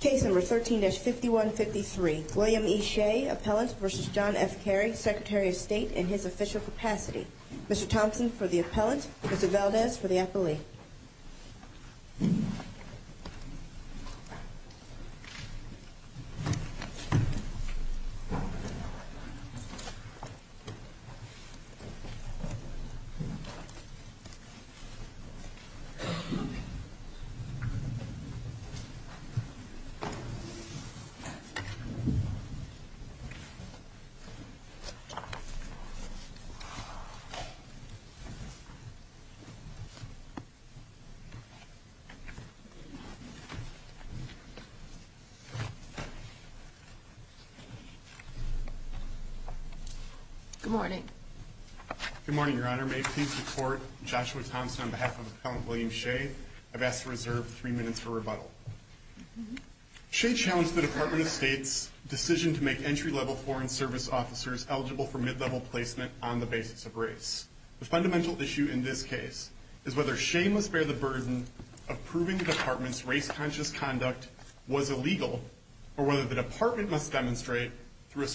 Case number 13-5153, William E. Shea, Appellant v. John F. Kerry, Secretary of State in his official capacity. Mr. Thompson for the Appellant, Mr. Valdez for the Affiliate. Good morning. Good morning, Your Honor. May it please the Court, Joshua Thompson on behalf of Appellant William Shea, have asked to reserve three minutes for rebuttal. Shea challenged the Department of State's decision to make entry-level Foreign Service officers eligible for mid-level placement on the basis of race. The fundamental issue in this case is whether Shea must bear the burden of proving the Department's race-conscious conduct was illegal or whether the Department must demonstrate, through a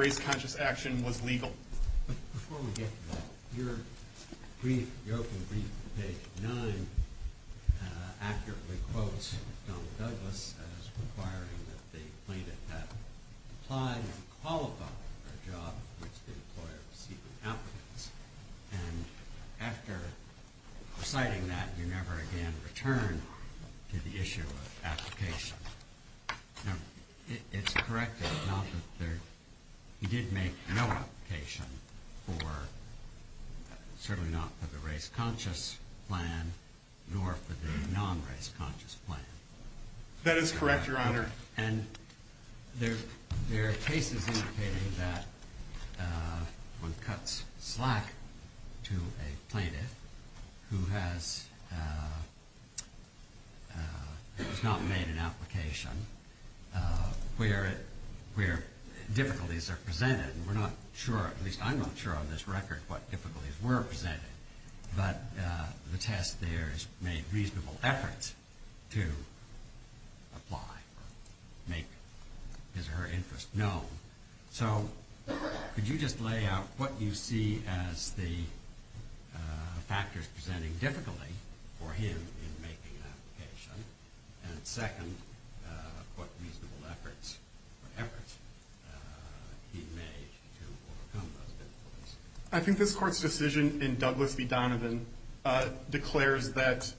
race-conscious action, was legal. Before we get to that, your brief joke in brief, page 9, accurately quotes Donald Douglas as requiring that the plaintiff have applied and qualified for the job which they required to seek an applicant. And after citing that, you never again return to the issue of application. We did make an application for, certainly not for the race-conscious plan, nor for the non-race-conscious plan. That is correct, Your Honor. And there are cases indicating that one cuts slack to a plaintiff who has not made an application, where difficulties are presented. And we're not sure, at least I'm not sure on this record, what difficulties were presented. But the test there is made reasonable effort to apply, make his or her interest known. So, could you just lay out what you see as the factors presenting difficulty for him in making an application? And second, what reasonable efforts he made to fulfill those difficulties? I think this Court's decision in Douglas v. Donovan declares that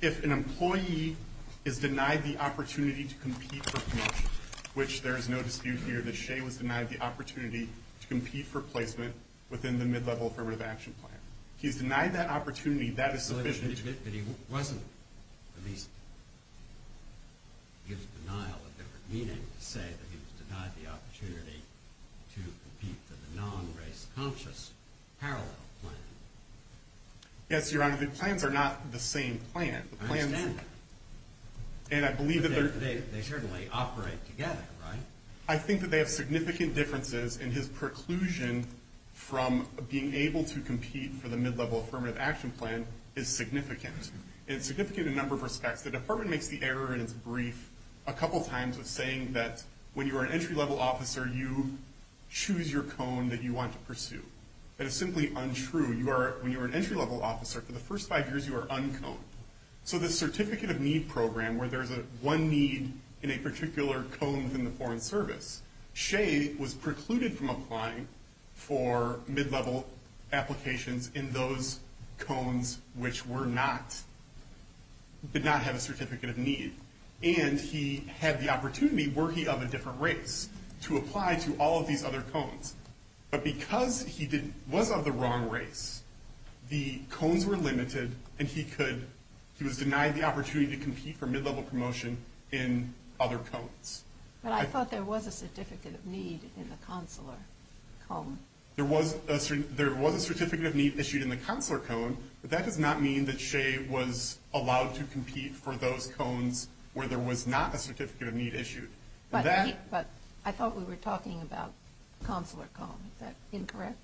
if an employee is denied the opportunity to compete for placement, which there is no dispute here that Shea was denied the opportunity to compete for placement within the mid-level affirmative action plan. He denied that opportunity. That is sufficient. But he wasn't. I mean, it gives denial a different meaning to say that he was denied the opportunity to compete for the non-race-conscious parallel plan. Yes, Your Honor. The plans are not the same plan. I understand that. And I believe that they're... They certainly operate together, right? I think that they have significant differences in his preclusion from being able to compete for the mid-level affirmative action plan is significant. It's significant in a number of respects. The Department makes the error in its brief a couple times of saying that when you're an entry-level officer, you choose your cone that you want to pursue. That is simply untrue. You are... When you're an entry-level officer, for the first five years, you are uncone. So, the Certificate of Need Program, where there's one need in a particular cone within the Foreign Service, Shea was precluded from applying for mid-level applications in those cones which were not... Did not have a Certificate of Need. And he had the opportunity, were he of a different race, to apply to all of these other cones. But because he was of the wrong race, the cones were limited, and he could... He was denied the opportunity to compete for mid-level promotion in other cones. But I thought there was a Certificate of Need in the consular cone. There was a Certificate of Need issued in the consular cone, but that does not mean that Shea was allowed to compete for those cones where there was not a Certificate of Need issued. But I thought we were talking about consular cones. Is that incorrect?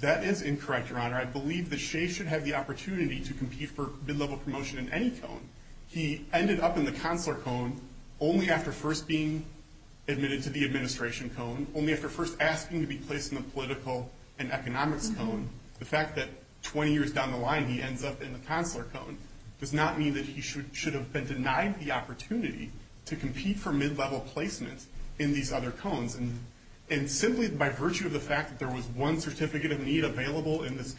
That is incorrect, Your Honor. I believe that Shea should have the opportunity to compete for mid-level promotion in any cone. He ended up in the consular cone only after first being admitted to the administration cone, only after first asking to be placed in the political and economic cone. The fact that 20 years down the line he ended up in the consular cone does not mean that he should have been denied the opportunity to compete for mid-level placement in these other cones. And simply by virtue of the fact that there was one Certificate of Need available in this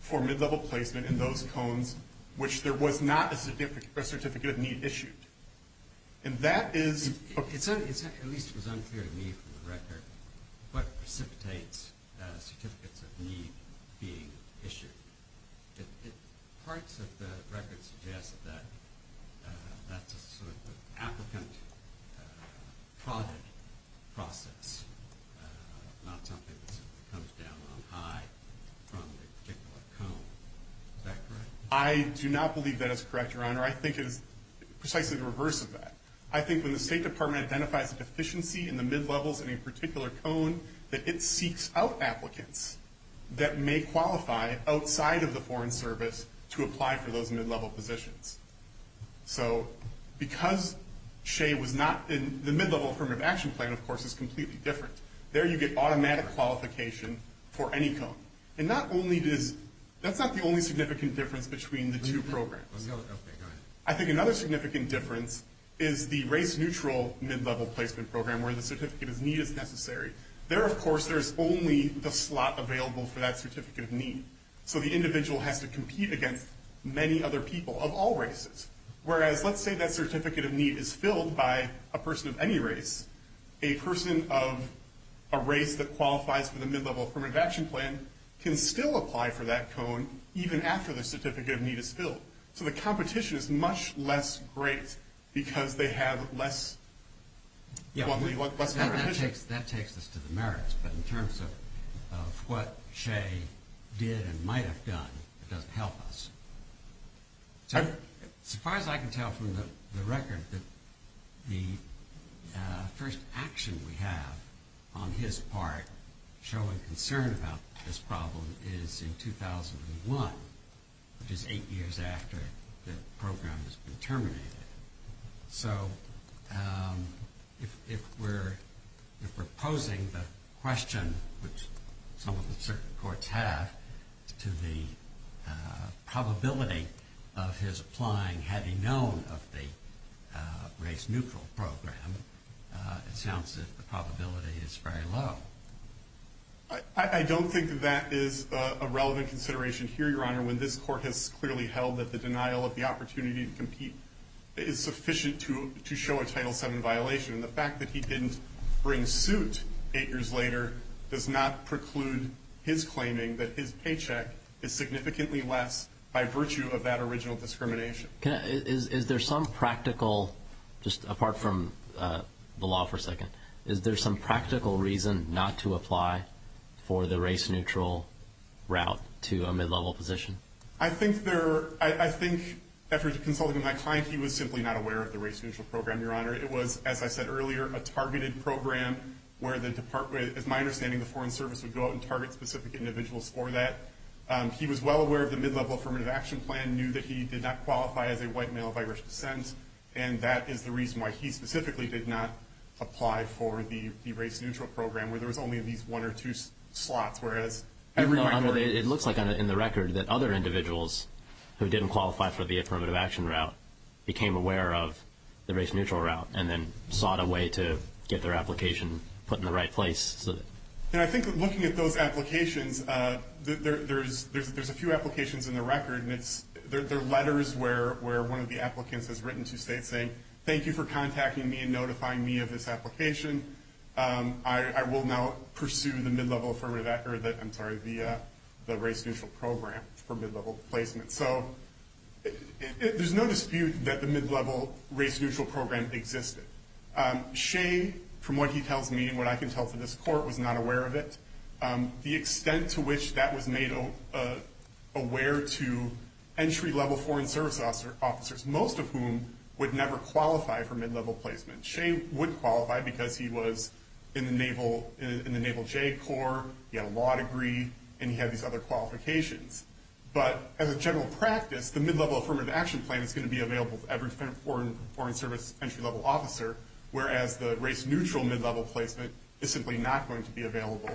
for mid-level placement in those cones, which there was not a Certificate of Need issued. And that is... At least it was unclear to me for the record what precipitates a Certificate of Need being issued. Parts of the record suggest that that's a sort of an applicant's project process, not something that comes down on high from the particular cone. Is that correct? I do not believe that is correct, Your Honor. I think it's precisely the reverse of that. I think when the State Department identifies deficiency in the mid-levels in a particular cone, that it seeks out applicants that may qualify outside of the Foreign Service to apply for those mid-level positions. So, because Shea was not in... The mid-level affirmative action plan, of course, is completely different. There you get automatic qualification for any cone. And not only did... That's not the only significant difference between the two programs. I think another significant difference is the race-neutral mid-level placement program where the Certificate of Need is necessary. There, of course, there's only the slot available for that Certificate of Need. So, the individual has to compete against many other people of all races. Whereas, let's say that Certificate of Need is filled by a person of any race, a person of a race that qualifies for the mid-level affirmative action plan can still apply for that cone even after the Certificate of Need is filled. So, the competition is much less great because they have less competition. That takes us to the merits, but in terms of what Shea did and might have done, it doesn't help us. As far as I can tell from the record, the first action we have on his part showing concern about this problem is in 2001, which is eight years after the program has been terminated. So, if we're proposing the question, which some of the circuit courts have, to the probability of his applying having known of the race-neutral program, it sounds that the probability is very low. I don't think that is a relevant consideration here, Your Honor, when this court has clearly held that the denial of the opportunity to compete is sufficient to show a Title VII violation. The fact that he didn't bring suit eight years later does not preclude his claiming that his paycheck is significantly less by virtue of that original discrimination. Is there some practical, just apart from the law for a second, is there some practical reason not to apply for the race-neutral route to a mid-level position? I think there, I think, after consulting with my client, he was simply not aware of the race-neutral program, Your Honor. It was, as I said earlier, a targeted program where the Department, it's my understanding the Foreign Service would go out and target specific individuals for that. He was well aware of the mid-level Affirmative Action Plan, knew that he did not qualify as a white male of Irish descent, and that is the reason why he specifically did not apply for the race-neutral program, where there was only at least one or two slots where it was... It looks like in the record that other individuals who didn't qualify for the Affirmative Action route became aware of the race-neutral route and then sought a way to get their application put in the right place. And I think looking at those applications, there's a few applications in the record, and they're letters where one of the applicants has written to state saying, thank you for contacting me and notifying me of this application. I will now pursue the mid-level Affirmative Action, I'm sorry, the race-neutral program for mid-level placement. So there's no dispute that the mid-level race-neutral program existed. Shea, from what he tells me and what I can tell from this court, was not aware of it. The extent to which that was made aware to entry-level Foreign Service officers, most of whom would never qualify for mid-level placement. Shea would qualify because he was in the Naval J Corps, he had a law degree, and he had these other qualifications. But as a general practice, the mid-level Affirmative Action Plan is going to be available to every current Foreign Service entry-level officer, whereas the race-neutral mid-level placement is simply not going to be available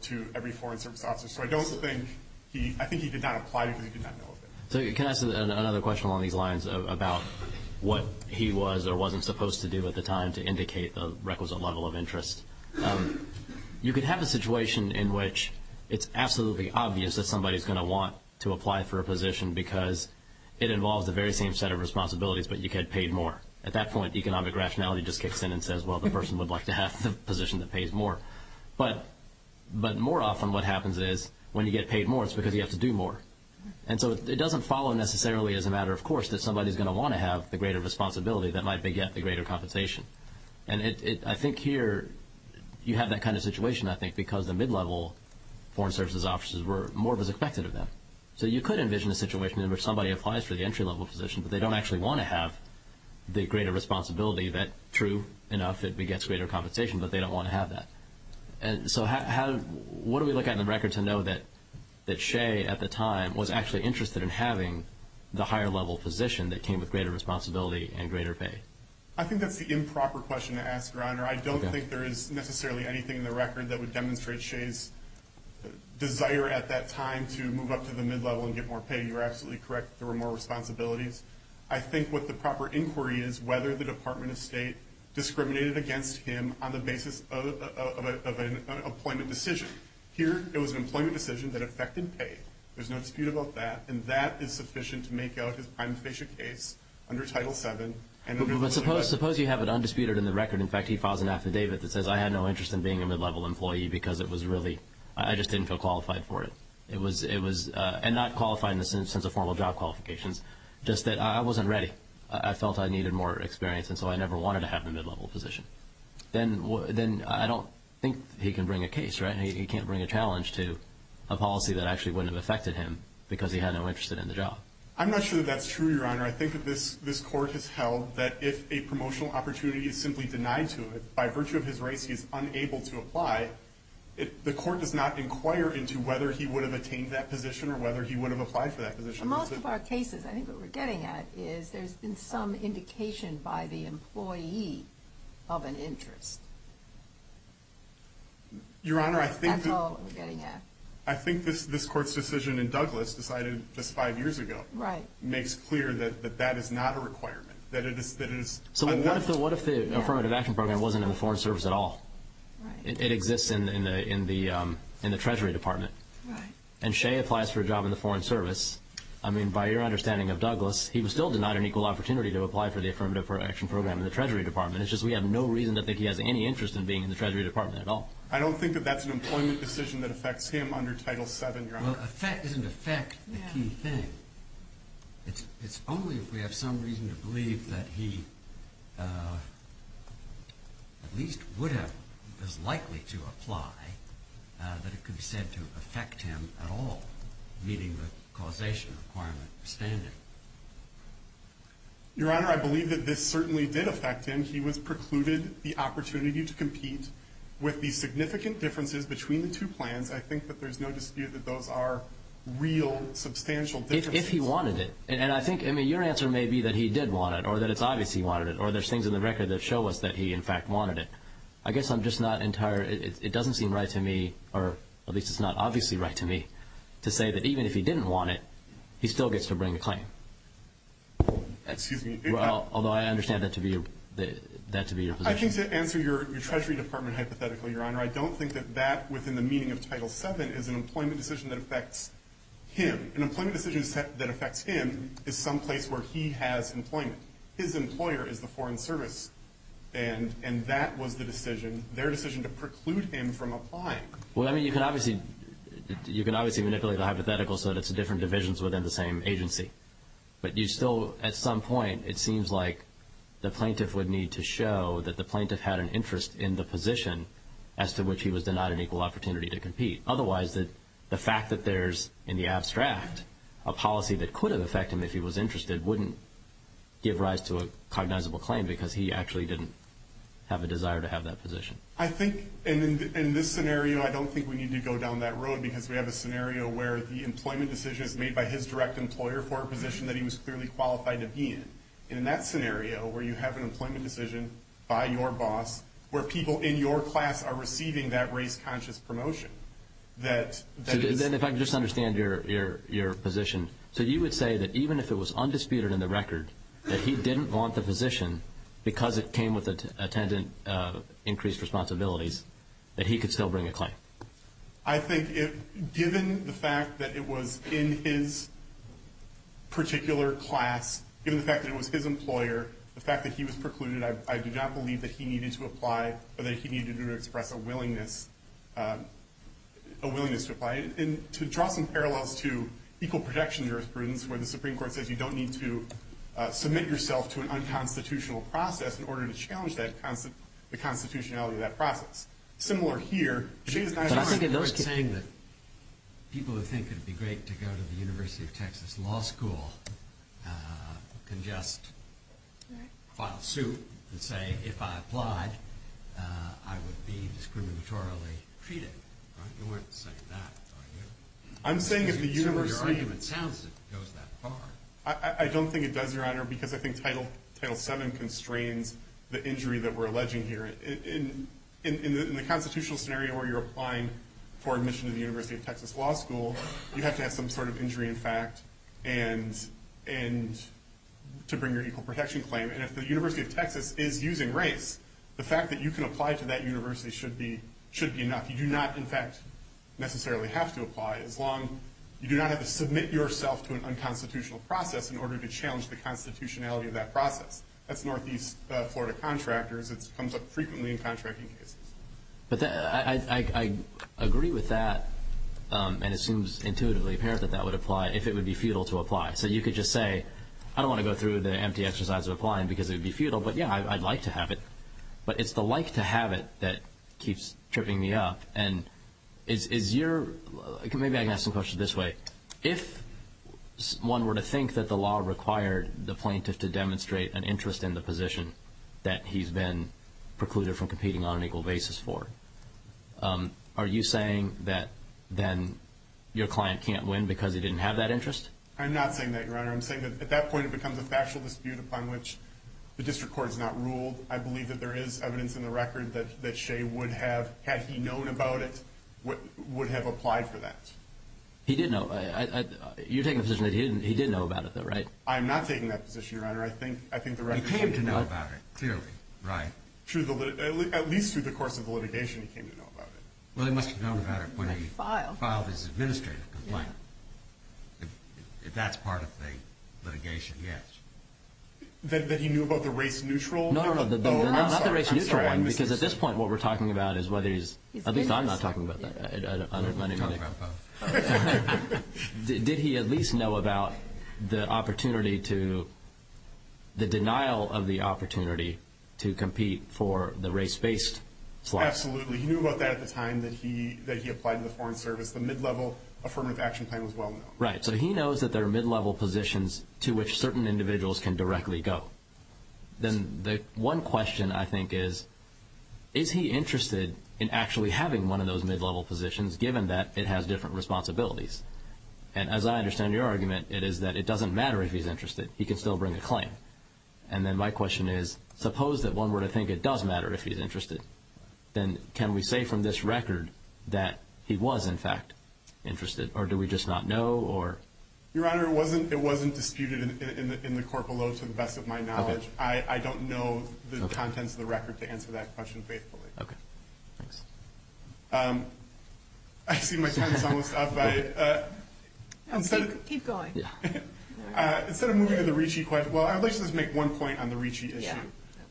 to every Foreign Service officer. So I think he did not apply for it, he did not know of it. So can I ask another question along these lines about what he was or wasn't supposed to do at the time to indicate a requisite level of interest? You can have a situation in which it's absolutely obvious that somebody's going to want to apply for a position because it involves the very same set of responsibilities, but you get paid more. At that point, economic rationality just kicks in and says, well, the person would like to have the position that pays more. But more often, what happens is, when you get paid more, it's because you have to do more. And so it doesn't follow necessarily as a matter of course that somebody's going to want to have the greater responsibility that might beget the greater compensation. And I think here, you have that kind of situation, I think, because the mid-level Foreign Service officers, more was expected of them. So you could envision a situation in which somebody applies for the entry-level position, but they don't actually want to have the greater responsibility that, true, enough, it begets greater compensation, but they don't want to have that. And so what do we look at in the record to know that Shea, at the time, was actually interested in having the higher-level position that came with greater responsibility and greater pay? I think that's the improper question to ask, Ryner. I don't think there is necessarily anything in the record that would demonstrate Shea's desire at that time to move up to the mid-level and get more pay. You're absolutely correct. There were more responsibilities. I think what the proper inquiry is whether the Department of State discriminated against him on the basis of an appointment decision. Here, it was an employment decision that affected pay. There's no dispute about that. And that is sufficient to make out his unabashed case under Title VII. Suppose you have it undisputed in the record. In fact, he files an affidavit that says, I had no interest in being a mid-level employee because it was really – I just didn't feel qualified for it. It was – and not qualifying in the sense of formal job qualifications, just that I wasn't ready. I felt I needed more experience, and so I never wanted to have the mid-level position. Then I don't think he can bring a case, right? He can't bring a challenge to a policy that actually wouldn't have affected him because he had no interest in the job. I'm not sure that's true, Your Honor. I think that this court has held that if a promotional opportunity is simply denied to by virtue of his race, he's unable to apply, the court does not inquire into whether he would have attained that position or whether he would have applied for that position. In most of our cases, I think what we're getting at is there's been some indication by the employee of an interest. That's all we're getting at. Your Honor, I think this court's decision in Douglas decided just five years ago makes clear that that is not a requirement, that it is – So what if the Affirmative Action Program wasn't in the Foreign Service at all? It exists in the Treasury Department. Right. And Shea applies for a job in the Foreign Service. I mean, by your understanding of Douglas, he was still denied an equal opportunity to apply for the Affirmative Action Program in the Treasury Department. It's just we have no reason to think he has any interest in being in the Treasury Department at all. I don't think that that's an employment decision that affects him under Title VII, Your Honor. Well, affect doesn't affect anything. It's only if we have some reason to believe that he at least would have – was likely to apply that it could be said to affect him at all, meeting the causation requirement standard. Your Honor, I believe that this certainly did affect him. He was precluded the opportunity to compete with the significant differences between the two plans. And I think that there's no dispute that those are real substantial differences. If he wanted it. And I think – I mean, your answer may be that he did want it or that it's obvious he wanted it or there's things in the record that show us that he, in fact, wanted it. I guess I'm just not entirely – it doesn't seem right to me, or at least it's not obviously right to me, to say that even if he didn't want it, he still gets to bring the claim. Excuse me. Although I understand that to be your position. I think to answer your Treasury Department hypothetical, Your Honor, I don't think that that within the meaning of Title VII is an employment decision that affects him. An employment decision that affects him is someplace where he has employment. His employer is the Foreign Service. And that was the decision – their decision to preclude him from applying. Well, I mean, you can obviously – you can obviously manipulate the hypothetical so that it's different divisions within the same agency. But you still – at some point, it seems like the plaintiff would need to show that the plaintiff had an interest in the position as to which he was denied an equal opportunity to compete. Otherwise, the fact that there's in the abstract a policy that could have affected him if he was interested wouldn't give rise to a cognizable claim because he actually didn't have a desire to have that position. I think in this scenario, I don't think we need to go down that road because we have a scenario where the employment decision is made by his direct employer for a position that he was clearly qualified to be in. In that scenario, where you have an employment decision by your boss, where people in your class are receiving that race-conscious promotion, that – So then if I can just understand your position, so you would say that even if it was undisputed in the record that he didn't want the position because it came with attendant increased responsibilities, that he could still bring a claim? I think given the fact that it was in his particular class, given the fact that it was his employer, the fact that he was precluded, I do not believe that he needed to apply, that he needed to express a willingness to apply. And to draw some parallels to equal protection jurisprudence where the Supreme Court says you don't need to submit yourself to an unconstitutional process in order to challenge the constitutionality of that process. Similar here. I'm just saying that people who think it would be great to go to the University of Texas Law School can just file suit and say, if I applied, I would be discriminatorily treated. You weren't saying that, were you? I'm saying if the university – So your argument sounds as if it goes that far. I don't think it does, Your Honor, because I think Title VII constrains the injury that we're alleging here. In the constitutional scenario where you're applying for admission to the University of Texas Law School, you have to have some sort of injury in fact and to bring your equal protection claim. And if the University of Texas is using rape, the fact that you can apply to that university should be enough. You do not, in fact, necessarily have to apply as long – you do not have to submit yourself to an unconstitutional process in order to challenge the constitutionality of that process. That's Northeast Florida contractors. It comes up frequently in contracting cases. But I agree with that and it seems intuitively apparent that that would apply if it would be futile to apply. So you could just say, I don't want to go through the empty exercise of applying because it would be futile, but yeah, I'd like to have it. But it's the like to have it that keeps tripping me up. And is your – maybe I can ask the question this way. If one were to think that the law required the plaintiff to demonstrate an interest in the position that he's been precluded from competing on an equal basis for, are you saying that then your client can't win because he didn't have that interest? I'm not saying that, Your Honor. I'm saying that at that point it becomes a factual dispute upon which the district court has not ruled. I believe that there is evidence in the record that Shea would have, had he known about it, would have applied for that. He did know. You're taking the position that he didn't know about it, though, right? I'm not taking that position, Your Honor. I think the record says that. He came to know about it, clearly. Right. At least through the course of the litigation he came to know about it. Well, he must have known about it when he filed his administrative complaint. That's part of the litigation, yes. That he knew about the race-neutral? No, not the race-neutral one because at this point what we're talking about is whether he's – I think I'm not talking about that. Did he at least know about the opportunity to – the denial of the opportunity to compete for the race-based slot? Absolutely. He knew about that at the time that he applied to the Foreign Service. The mid-level affirmative action plan was well known. Right. So he knows that there are mid-level positions to which certain individuals can directly go. Then the one question I think is, is he interested in actually having one of those mid-level positions given that it has different responsibilities? And as I understand your argument, it is that it doesn't matter if he's interested. He can still bring a claim. And then my question is, suppose that one were to think it does matter if he's interested, then can we say from this record that he was in fact interested or do we just not know or – Your Honor, it wasn't disputed in the court below to the best of my knowledge. I don't know the contents of the record to answer that question faithfully. Okay. I see my time is almost up. Keep going. Instead of moving to the Ricci question, well, I'd like to just make one point on the Ricci issue.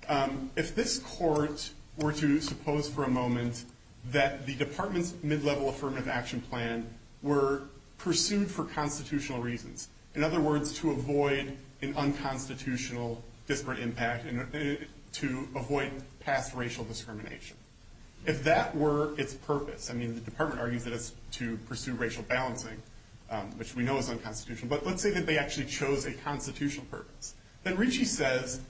Yeah. If this court were to suppose for a moment that the Department's mid-level affirmative action plan were pursued for constitutional reasons, in other words, to avoid an unconstitutional disparate impact and to avoid past racial discrimination, if that were its purpose – I mean, the Department argued that it's to pursue racial balancing, which we know is unconstitutional. But let's say that they actually chose a constitutional purpose. Then Ricci says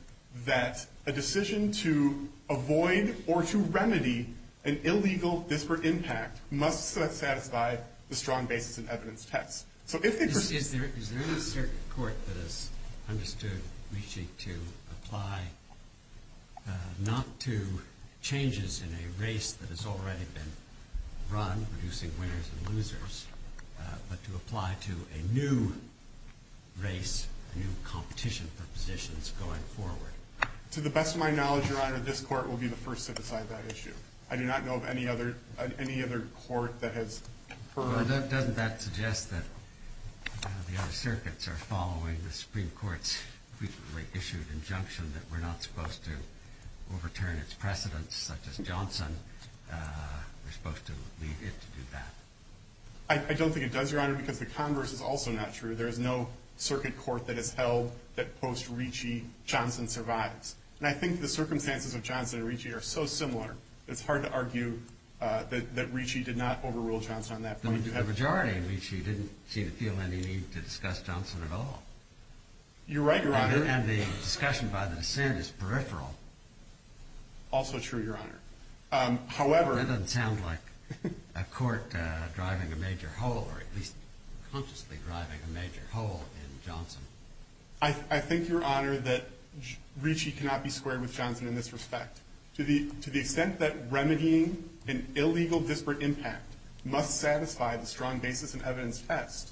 that a decision to avoid or to remedy an illegal disparate impact must satisfy the strong basis and evidence test. So if – Is there a court that has understood Ricci to apply not to changes in a race that has already been run, producing winners and losers, but to apply to a new race, a new competition of positions going forward? To the best of my knowledge, Your Honor, this court will be the first to decide that issue. I do not know of any other court that has – Well, doesn't that suggest that the other circuits are following the Supreme Court's frequently-issued injunction that we're not supposed to overturn its precedents, such as Johnson? We're supposed to leave it to do that. I don't think it does, Your Honor, because the converse is also not true. There is no circuit court that has held that quotes Ricci, Johnson survived. And I think the circumstances of Johnson and Ricci are so similar, it's hard to argue that Ricci did not overrule Johnson on that point. The majority of Ricci didn't feel any need to discuss Johnson at all. You're right, Your Honor. And the discussion by the dissent is peripheral. Also true, Your Honor. However – That doesn't sound like a court driving a major hole, or at least consciously driving a major hole in Johnson. I think, Your Honor, that Ricci cannot be squared with Johnson in this respect. To the extent that remedying an illegal disparate impact must satisfy a strong basis in evidence test,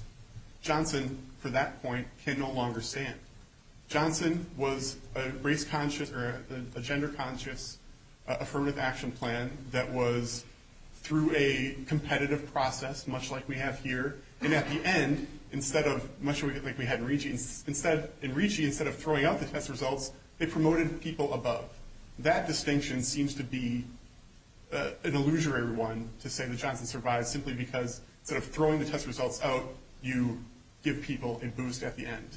Johnson, for that point, can no longer stand. Johnson was a race-conscious – or a gender-conscious affirmative action plan that was through a competitive process, much like we have here. And at the end, instead of – much like we had Ricci, instead – and Ricci, instead of throwing out the test results, it promoted people above. That distinction seems to be an illusory one to say that Johnson survived simply because throwing the test results out, you give people a boost at the end.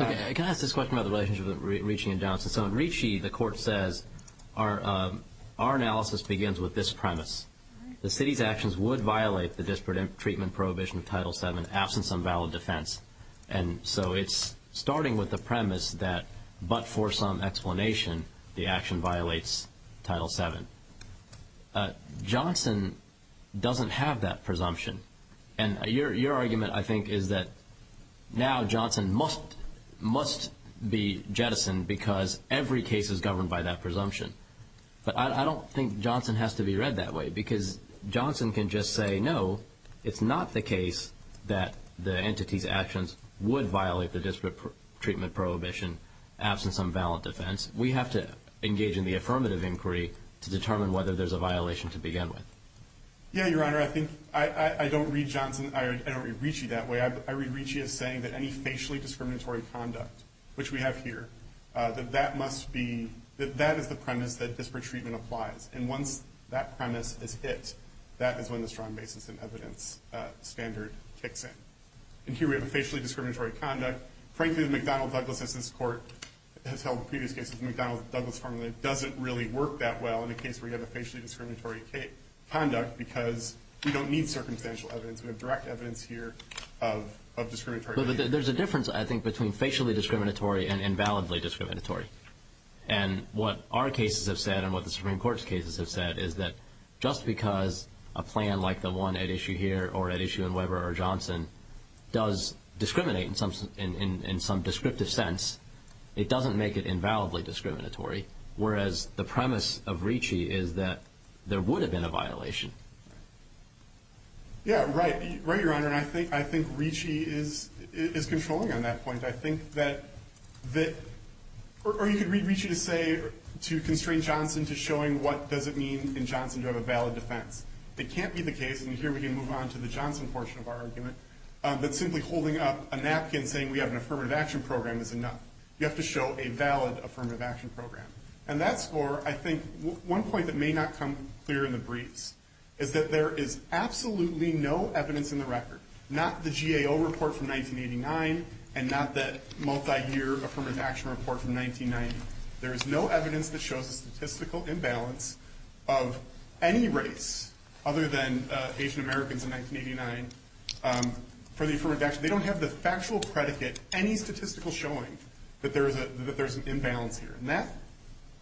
Okay. Can I ask this question about the relationship with Ricci and Johnson? So in Ricci, the court says, our analysis begins with this premise. The city's actions would violate the disparate treatment prohibition of Title VII, absence on valid defense. And so it's starting with the premise that, but for some explanation, the action violates Title VII. Johnson doesn't have that presumption. And your argument, I think, is that now Johnson must be jettisoned because every case is governed by that presumption. But I don't think Johnson has to be read that way because Johnson can just say, no, it's not the case that the entity's actions would violate the disparate treatment prohibition absence on valid defense. We have to engage in the affirmative inquiry to determine whether there's a violation to begin with. Yeah, Your Honor, I think – I don't read Johnson – I don't read Ricci that way. I read Ricci as saying that any facially discriminatory conduct, which we have here, that that must be – that that is the premise that disparate treatment applies. And once that premise is hit, that is when the strong basis and evidence standard kicks in. And here we have a facially discriminatory conduct. Frankly, the McDonald-Douglas Justice Court has held previous cases. McDonald-Douglas doesn't really work that well in the case where you have a facially discriminatory conduct because we don't need circumstantial evidence. We have direct evidence here of discriminatory – But there's a difference, I think, between facially discriminatory and invalidly discriminatory. And what our cases have said and what the Supreme Court's cases have said is that just because a plan like the one at issue here or at issue at Weber or Johnson does discriminate in some descriptive sense, it doesn't make it invalidly discriminatory. Whereas the premise of Ricci is that there would have been a violation. Yeah, right. Right, Your Honor. I think Ricci is controlling on that point. I think that – or you could read Ricci to say – to constrain Johnson to showing what does it mean in Johnson to have a valid defense. It can't be the case – and here we can move on to the Johnson portion of our argument – that simply holding up a napkin saying we have an affirmative action program is enough. You have to show a valid affirmative action program. And that's for, I think, one point that may not come clear in the brief is that there is absolutely no evidence in the record, not the GAO report from 1989 and not the multi-year affirmative action report from 1990. There is no evidence that shows a statistical imbalance of any race other than Asian Americans in 1989 for the affirmative action. They don't have the factual predicate, any statistical showing that there's an imbalance here. And that's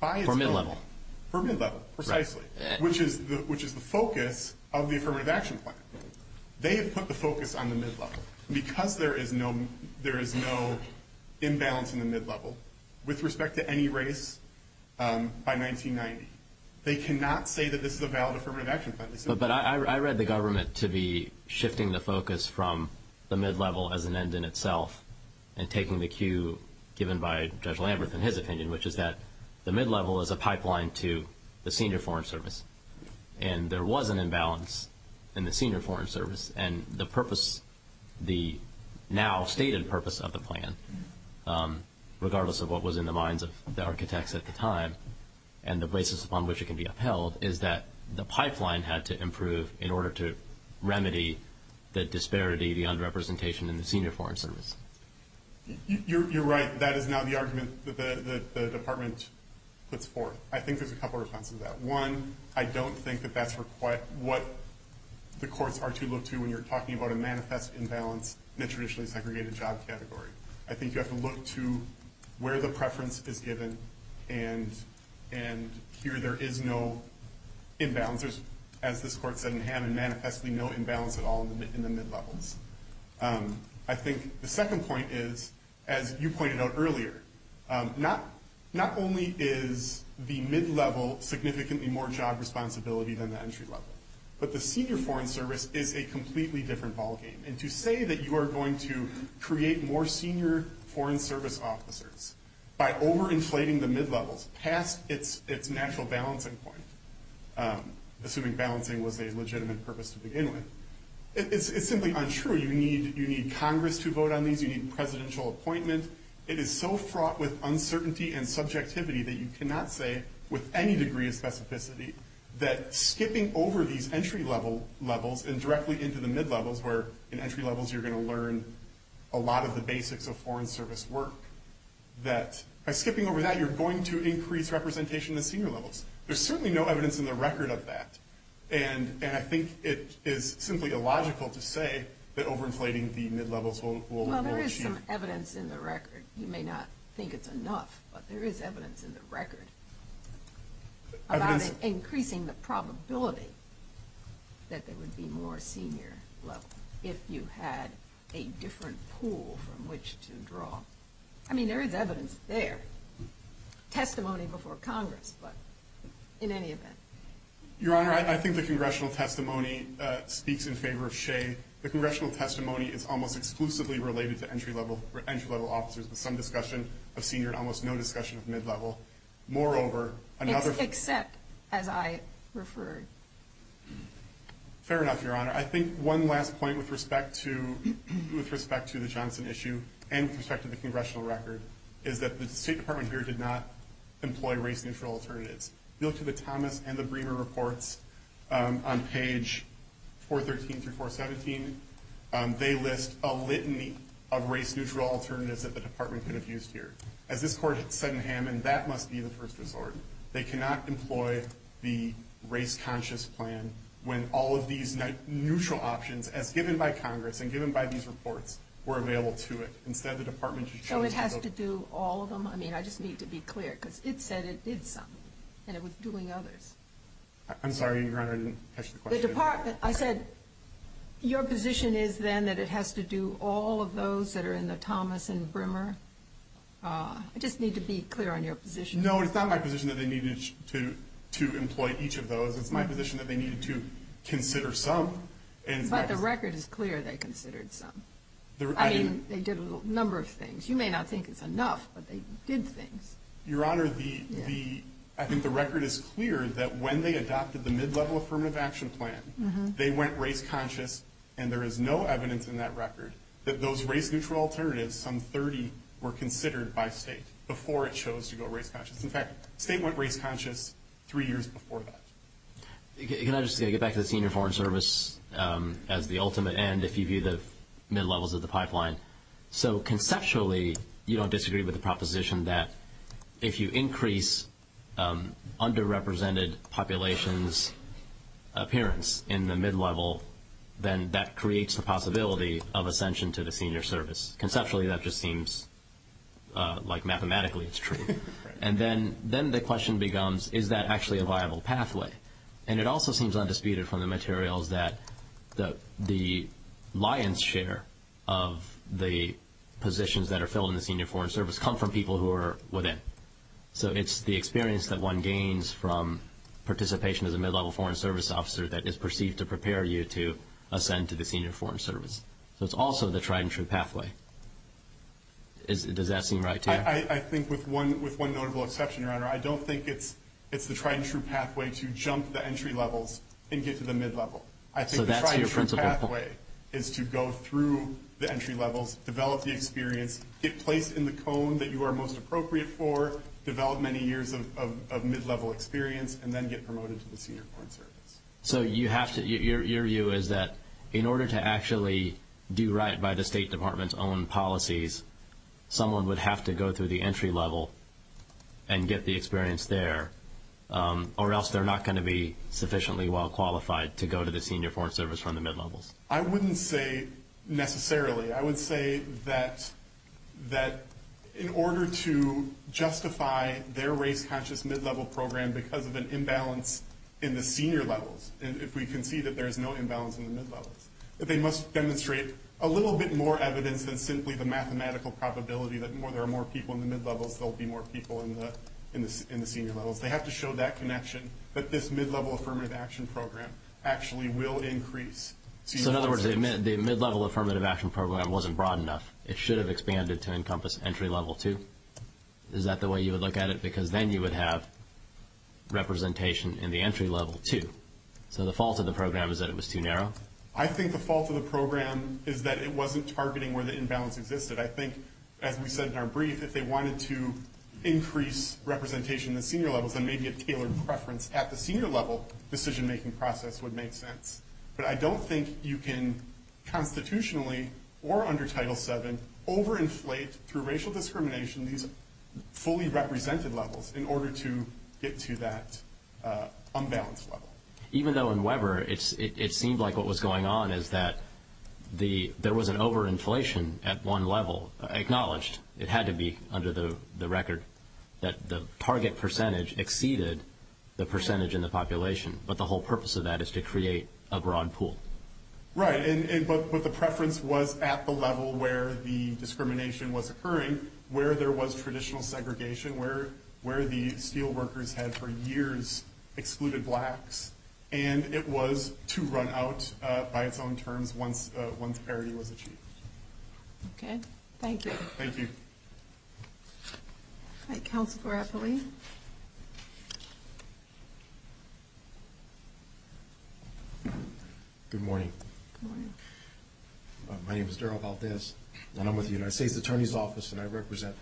by and large – For mid-level. For mid-level, precisely. Right. Which is the focus of the affirmative action plan. They have put the focus on the mid-level because there is no imbalance in the mid-level with respect to any race by 1990. They cannot say that this is a valid affirmative action plan. But I read the government to be shifting the focus from the mid-level as an end in itself and taking the cue given by Judge Lambert in his opinion, which is that the mid-level is a pipeline to the senior foreign service. And there was an imbalance in the senior foreign service. And the purpose – the now stated purpose of the plan, regardless of what was in the minds of the architects at the time and the basis upon which it can be upheld, is that the pipeline had to improve in order to remedy the disparity, the under-representation in the senior foreign service. You're right. That is now the argument that the department puts forth. I think there's a couple of responses to that. One, I don't think that that's what the courts are to look to when you're talking about a manifest imbalance in a traditionally segregated job category. I think you have to look to where the preference is given. And here there is no imbalance. As this court said, you have manifestly no imbalance at all in the mid-levels. I think the second point is, as you pointed out earlier, not only is the mid-level significantly more job responsibility than the entry-level, but the senior foreign service is a completely different ballgame. And to say that you are going to create more senior foreign service officers by over-inflating the mid-levels past its natural balancing point – assuming balancing was a legitimate purpose to begin with – it's simply untrue. You need Congress to vote on these. You need presidential appointments. It is so fraught with uncertainty and subjectivity that you cannot say with any degree of specificity that skipping over these entry-level levels and directly into the mid-levels, where in entry-levels you're going to learn a lot of the basics of foreign service work, that by skipping over that you're going to increase representation at senior levels. There's certainly no evidence in the record of that. And I think it is simply illogical to say that over-inflating the mid-levels will – Well, there is some evidence in the record. You may not think it's enough, but there is evidence in the record about increasing the probability that there would be more senior level if you had a different pool from which to draw. I mean, there is evidence there. Testimony before Congress, but in any event. Your Honor, I think the congressional testimony speaks in favor of Shea. The congressional testimony is almost exclusively related to entry-level officers with some discussion of senior and almost no discussion of mid-level. Moreover, another – Except as I referred. Fair enough, Your Honor. I think one last point with respect to the Johnson issue and with respect to the congressional record is that the State Department here did not employ race-neutral alternatives. Go to the Common and the Brewer reports on page 413 through 417. They list a litany of race-neutral alternatives that the Department could have used here. As is, of course, said in Hammond, that must be the first resort. They cannot employ the race-conscious plan when all of these neutral options, as given by Congress and given by these reports, were available to it. Instead, the Department – So it has to do all of them? I mean, I just need to be clear, because it said it did some, and it was doing others. I'm sorry, Your Honor, I didn't catch the question. The Department – I said, your position is, then, that it has to do all of those that are in the Thomas and Brewer? I just need to be clear on your position. No, it's not my position that they needed to employ each of those. It's my position that they needed to consider some. But the record is clear they considered some. I mean, they did a number of things. You may not think it's enough, but they did things. Your Honor, I think the record is clear that when they adopted the mid-level affirmative action plan, they went race-conscious, and there is no evidence in that record that those race-neutral alternatives, some 30, were considered by state before it chose to go race-conscious. In fact, state went race-conscious three years before that. Can I just get back to the senior foreign service as the ultimate end, if you view the mid-levels of the pipeline? So, conceptually, you don't disagree with the proposition that if you increase underrepresented populations' appearance in the mid-level, then that creates the possibility of ascension to the senior service. Conceptually, that just seems like mathematically it's true. And then the question becomes, is that actually a viable pathway? And it also seems undisputed from the material that the lion's share of the positions that are filled in the senior foreign service come from people who are within. So, it's the experience that one gains from participation as a mid-level foreign service officer that is perceived to prepare you to ascend to the senior foreign service. So, it's also the tried-and-true pathway. Does that seem right to you? I think with one notable exception, Your Honor, I don't think it's the tried-and-true pathway to jump the entry levels and get to the mid-level. I think the tried-and-true pathway is to go through the entry levels, develop the experience, get placed in the cone that you are most appropriate for, develop many years of mid-level experience, and then get promoted to the senior foreign service. So, your view is that in order to actually do right by the State Department's own policies, someone would have to go through the entry level and get the experience there, or else they're not going to be sufficiently well-qualified to go to the senior foreign service from the mid-levels? I wouldn't say necessarily. I would say that in order to justify their race-conscious mid-level program because of an imbalance in the senior levels, if we can see that there's no imbalance in the mid-level, that they must demonstrate a little bit more evidence than simply the mathematical probability that there are more people in the mid-levels, there will be more people in the senior levels. They have to show that connection that this mid-level affirmative action program actually will increase. So, in other words, the mid-level affirmative action program wasn't broad enough. It should have expanded to encompass entry level two? Is that the way you would look at it? Because then you would have representation in the entry level two. So, the fault of the program is that it was too narrow? I think the fault of the program is that it wasn't targeting where the imbalance existed. I think, as we said in our brief, if they wanted to increase representation in the senior levels, then maybe a tailored preference at the senior level decision-making process would make sense. But I don't think you can constitutionally, or under Title VII, over-inflate, through racial discrimination, these fully represented levels in order to get to that unbalanced level. Even though in Weber, it seemed like what was going on is that there was an over-inflation at one level acknowledged. It had to be under the record that the target percentage exceeded the percentage in the population. But the whole purpose of that is to create a broad pool. Right. But the preference was at the level where the discrimination was occurring, where there was traditional segregation, where the steel workers had, for years, excluded blacks. And it was to run out, by its own terms, once parity was achieved. Okay. Thank you. Thank you. All right. Counselor Barabarino? Good morning. Good morning. My name is Daryl Valdez, and I'm with the United States Attorney's Office, and I represent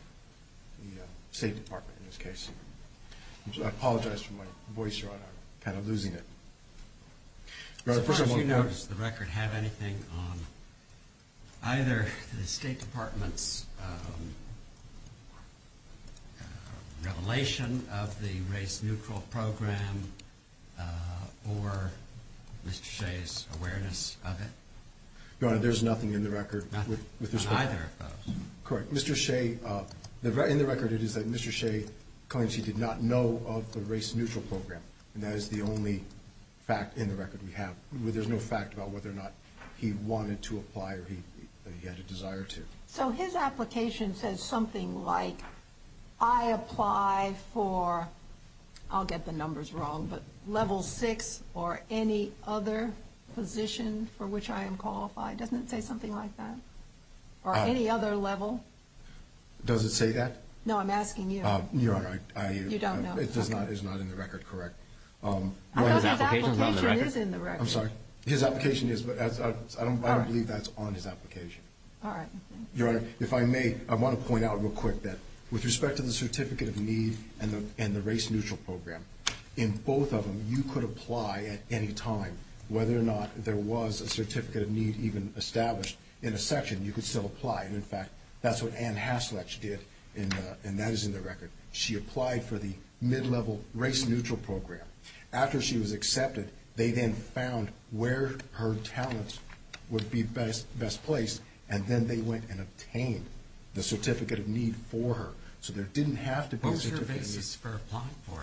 the State Department in this case. I apologize for my voice. I'm kind of losing it. Does the record have anything on either the State Department's revelation of the race-neutral program, or Mr. Shea's awareness of it? Your Honor, there's nothing in the record. Nothing? Not either of those? Correct. Mr. Shea, in the record, it is that Mr. Shea claims he did not know of the race-neutral program. And that is the only fact in the record we have. There's no fact about whether or not he wanted to apply or he had a desire to. So his application says something like, I apply for, I'll get the numbers wrong, but level six or any other position for which I am qualified. Doesn't it say something like that? Or any other level? Does it say that? No, I'm asking you. Your Honor, I am. You don't know? It is not in the record, correct. I don't think his application is in the record. I'm sorry. His application is, but I don't believe that's on his application. All right. Your Honor, if I may, I want to point out real quick that with respect to the certificate of needs and the race-neutral program, in both of them, you could apply at any time whether or not there was a certificate of need even established in a section. You could still apply. In fact, that's what Anne Hasluck did in that is in the record. She applied for the mid-level race-neutral program. After she was accepted, they then found where her talents would be best placed, and then they went and obtained the certificate of need for her. So there didn't have to be a certificate of need. What was her basis for applying for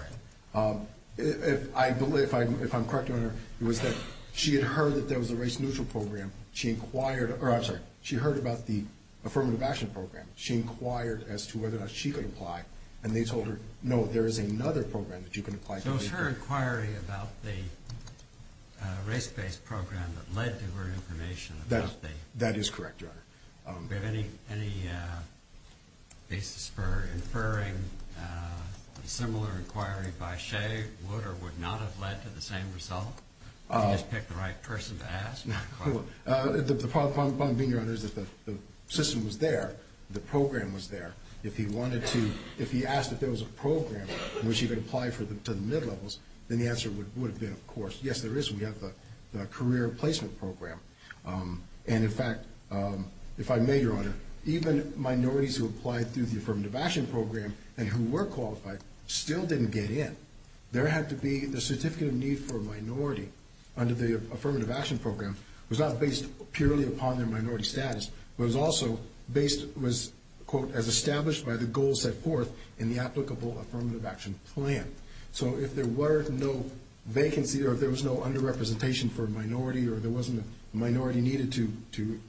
it? I'm sorry. I believe, if I'm correct, Your Honor, it was that she had heard that there was a race-neutral program. She inquired, or I'm sorry, she heard about the affirmative action program. She inquired as to whether or not she could apply, and they told her, no, there is another program that you can apply to. So it was her inquiry about the race-based program that led to her information. That is correct, Your Honor. Do we have any basis for inferring a similar inquiry by Shea? Would or would not have led to the same result? Did you just pick the right person to ask? The problem being, Your Honor, is that the system was there. The program was there. If he asked if there was a program in which he could apply to the mid-levels, then the answer would have been, of course, yes, there is. We have a career placement program. In fact, if I may, Your Honor, even minorities who applied to the affirmative action program and who were qualified still didn't get in. There had to be the certificate of need for a minority under the affirmative action program was not based purely upon their minority status. It was also based, was, quote, as established by the goals set forth in the applicable affirmative action plan. So if there were no vacancy or if there was no under-representation for a minority or if there wasn't a minority needed to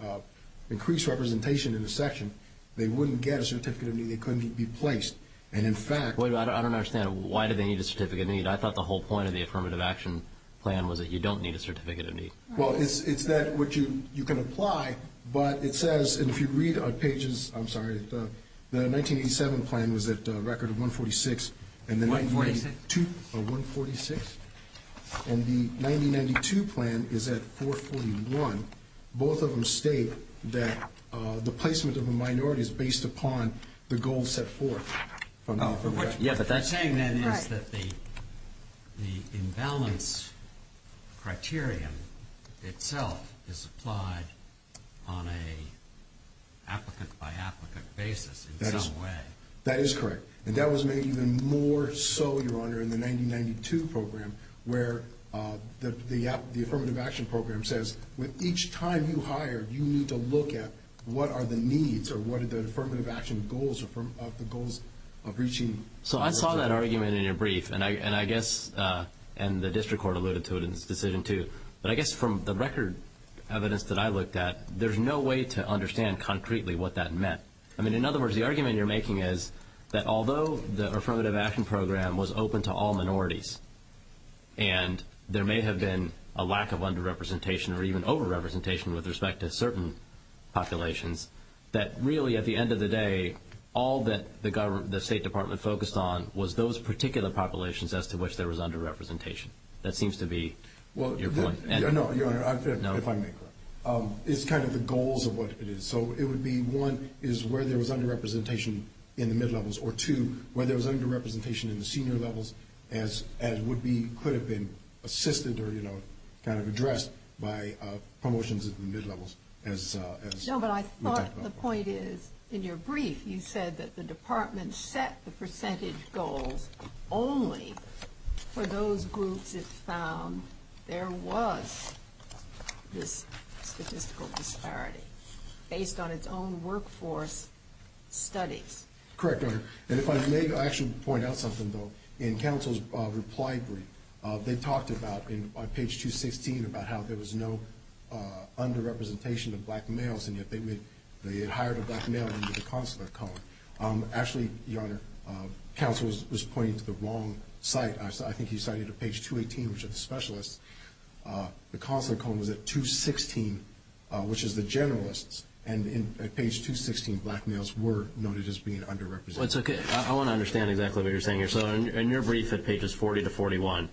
increase representation in the section, they wouldn't get a certificate of need. They couldn't be placed. And in fact... Wait a minute. I don't understand. Why did they need a certificate of need? I thought the whole point of the affirmative action plan was that you don't need a certificate of need. Well, it's that which you can apply, but it says, and if you read on pages... I'm sorry. The 1987 plan was at a record of 146... 142. Or 146. And the 1992 plan is at 441. Both of them state that the placement of a minority is based upon the goals set forth. Oh, correct. Yeah, but that's saying, then, that the imbalance criterion itself is applied on an applicant by applicant basis in some way. That is correct. And that was made even more so, Your Honor, in the 1992 program, where the affirmative action program says, with each time you hire, you need to look at what are the needs or what are the affirmative action goals of the goals of reaching... So, I saw that argument in your brief, and I guess... And the district court alluded to it in its decision, too. But I guess from the record evidence that I looked at, there's no way to understand concretely what that meant. I mean, in other words, the argument you're making is that although the affirmative action program was open to all minorities, and there may have been a lack of under-representation or even over-representation with respect to certain populations, that really, at the end of the day, all that the state department focused on was those particular populations as to which there was under-representation. That seems to be your point. No, Your Honor, if I may... It's kind of the goals of what it is. So, it would be, one, is where there was under-representation in the mid-levels, or two, where there was under-representation in the senior levels, as would be... Could have been assisted or kind of addressed by promotions in the mid-levels as... No, but I thought the point is, in your brief, you said that the department set the percentage goals only for those groups it found there was this statistical disparity, based on its own workforce studies. Correct, Your Honor. And if I may actually point out something, though. In counsel's reply brief, they talked about, on page 216, about how there was no under-representation of black males, and that they had hired a black male under the concept of color. Actually, Your Honor, counsel was pointing to the wrong site. I think he cited page 218, which is a specialist. The concept was at 216, which is the generalists, and in page 216, black males were noted as being under-represented. That's okay. I want to understand exactly what you're saying here. So, in your brief at pages 40 to 41,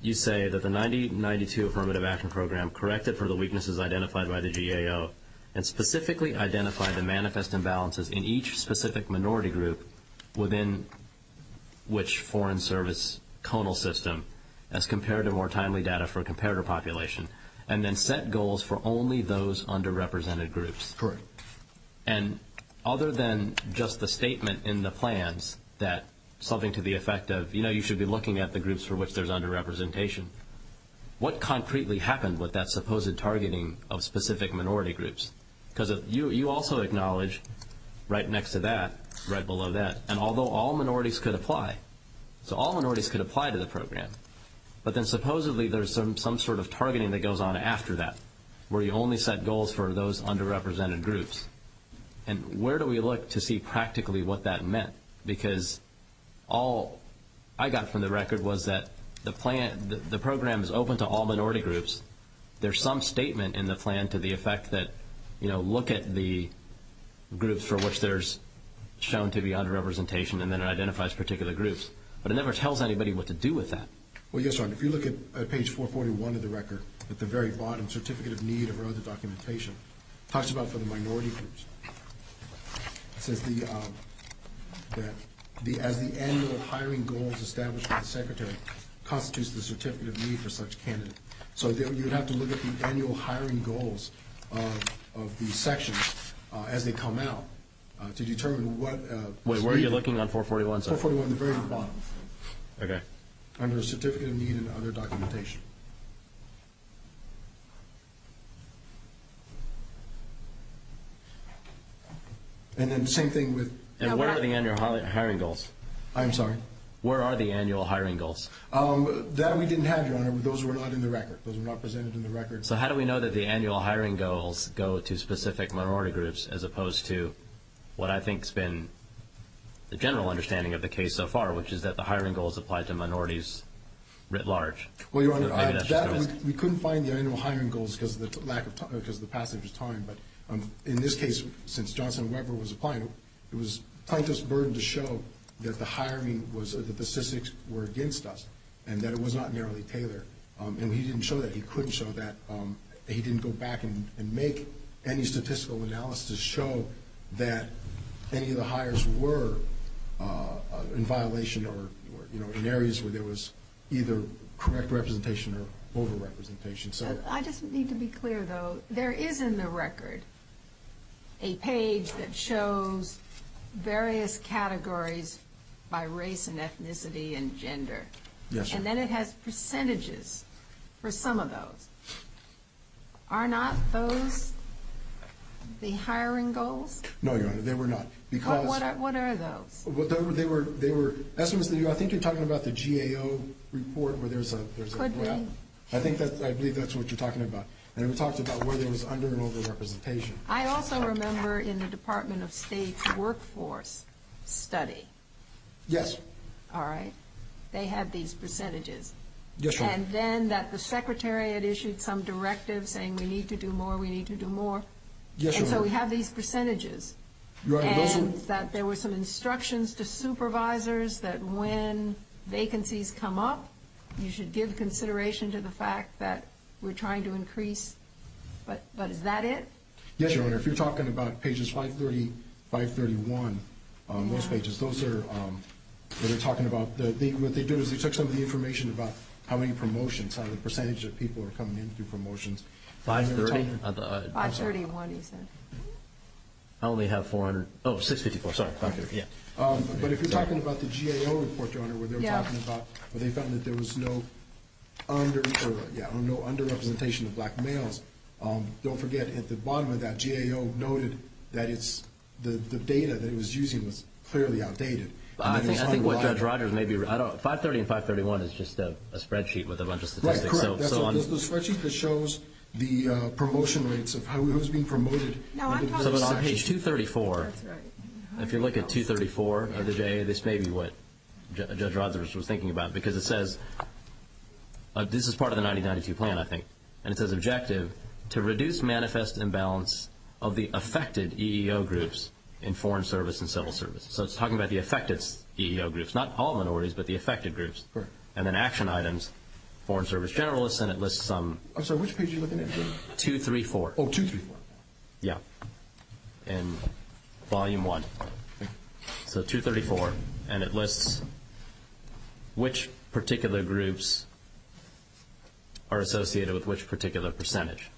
you say that the 9092 Affirmative Action Program corrected for the weaknesses identified by the GAO, and specifically identified the manifest imbalances in each specific minority group, within which foreign service conal system, as compared to more timely data for a comparator population, and then set goals for only those under-represented groups. Correct. And other than just the statement in the plans that something could be effective, you know, you should be looking at the groups for which there's under-representation. What concretely happened with that supposed targeting of specific minority groups? Because you also acknowledge, right next to that, right below that, and although all minorities could apply, so all minorities could apply to the program, but then supposedly there's some sort of targeting that goes on after that, where you only set goals for those under-represented groups. And where do we look to see practically what that meant? Because all I got from the record was that the program is open to all minority groups. There's some statement in the plan to the effect that, you know, look at the groups for which there's shown to be under-representation, and then it identifies particular groups. But it never tells anybody what to do with that. Well, yes, if you look at page 441 of the record, at the very bottom, Certificate of Need and other documentation, it talks about for the minority groups. It says the – as the annual hiring goals established by the Secretary constitutes the certificate of need for such candidates. So you have to look at the annual hiring goals of these sections as they come out to determine what – Wait, where are you looking on 441? 441 at the very bottom. Okay. Under Certificate of Need and other documentation. And then the same thing with – And where are the annual hiring goals? I'm sorry? Where are the annual hiring goals? That we didn't have, Your Honor, but those were not in the record. Those were not presented in the record. So how do we know that the annual hiring goals go to specific minority groups as opposed to what I think has been the general understanding of the case so far, which is that the hiring goals apply to minorities writ large? Well, Your Honor, that – we couldn't find the annual hiring goals because of the lack of time – because of the passage of time. But in this case, since Johnson and Weber was applying, it was the plaintiff's burden to show that the hiring was – that the statistics were against us and that it was not narrowly tailored. And he didn't show that. He couldn't show that. He didn't go back and make any statistical analysis show that any of the hires were in violation or in areas where there was either correct representation or over-representation. So – I just need to be clear, though. There is in the record a page that shows various categories by race and ethnicity and gender. Yes, Your Honor. And then it has percentages for some of those. Are not those the hiring goals? No, Your Honor, they were not. Because – But what are those? They were – I think you're talking about the GAO report where there's a – Could be. I think that's – I believe that's what you're talking about. And it talks about whether it was under or over-representation. I also remember in the Department of State's workforce study – Yes. All right? They had these percentages. Yes, Your Honor. And then that the Secretary had issued some directive saying we need to do more, we need to do more. Yes, Your Honor. And so we have these percentages. Your Honor, those are – That there were some instructions to supervisors that when vacancies come up, you should give consideration to the fact that we're trying to increase – but is that it? Yes, Your Honor. If you're talking about pages 530, 531, those pages, those are – they're talking about – what they do is they took some of the information about how many promotions, how the percentage of people are coming in through promotions. Five-thirty? Five-thirty-one, he said. I only have 400 – oh, 654, sorry. But if you're talking about the GAO report, Your Honor, where they were talking about – where they found that there was no under – yeah, no under-representation of black males, don't forget at the bottom of that, GAO noted that it's – the data that it was using was clearly outdated. I think what Judge Rogers may be – I don't know. Five-thirty and five-thirty-one is just a spreadsheet with a bunch of statistics. Right, correct. So on – It's a spreadsheet that shows the promotion rates of how it was being promoted. So on page 234, if you look at 234 of the GAO, this may be what Judge Rogers was thinking about, because it says – this is part of the 1992 plan, I think, and it says objective – to reduce manifest imbalance of the affected EEO groups in foreign service and civil service. So it's talking about the affected EEO groups, not all minorities, but the affected groups. Correct. And then action items, foreign service generalists, and it lists some – I'm sorry, which page are you looking at? 234. Oh, 234. Yeah. And volume one. So 234, and it lists which particular groups are associated with which particular percentage.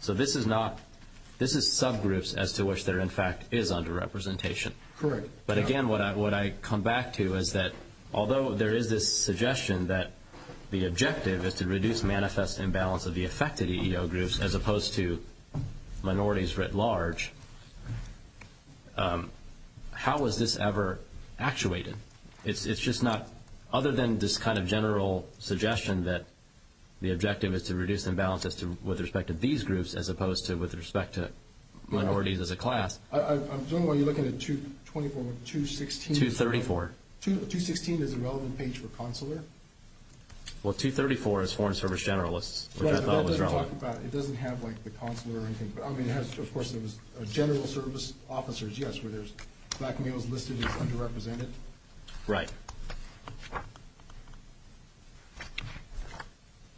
So this is not – this is subgroups as to which there, in fact, is under-representation. Correct. But again, what I come back to is that although there is this suggestion that the objective is to reduce manifest imbalance of the affected EEO groups as opposed to minorities writ large, how is this ever actuated? It's just not – other than this kind of general suggestion that the objective is to reduce imbalance with respect to these groups as opposed to with respect to minorities as a class. I was wondering why you're looking at 224 with 216. 234. 216, there's a relevant page for consular. Well, 234 is foreign service generalists. Well, it doesn't talk about – it doesn't have, like, the consular or anything. I mean, it has – of course, there's general service officers, yes, where there's black males listed as under-represented. Right.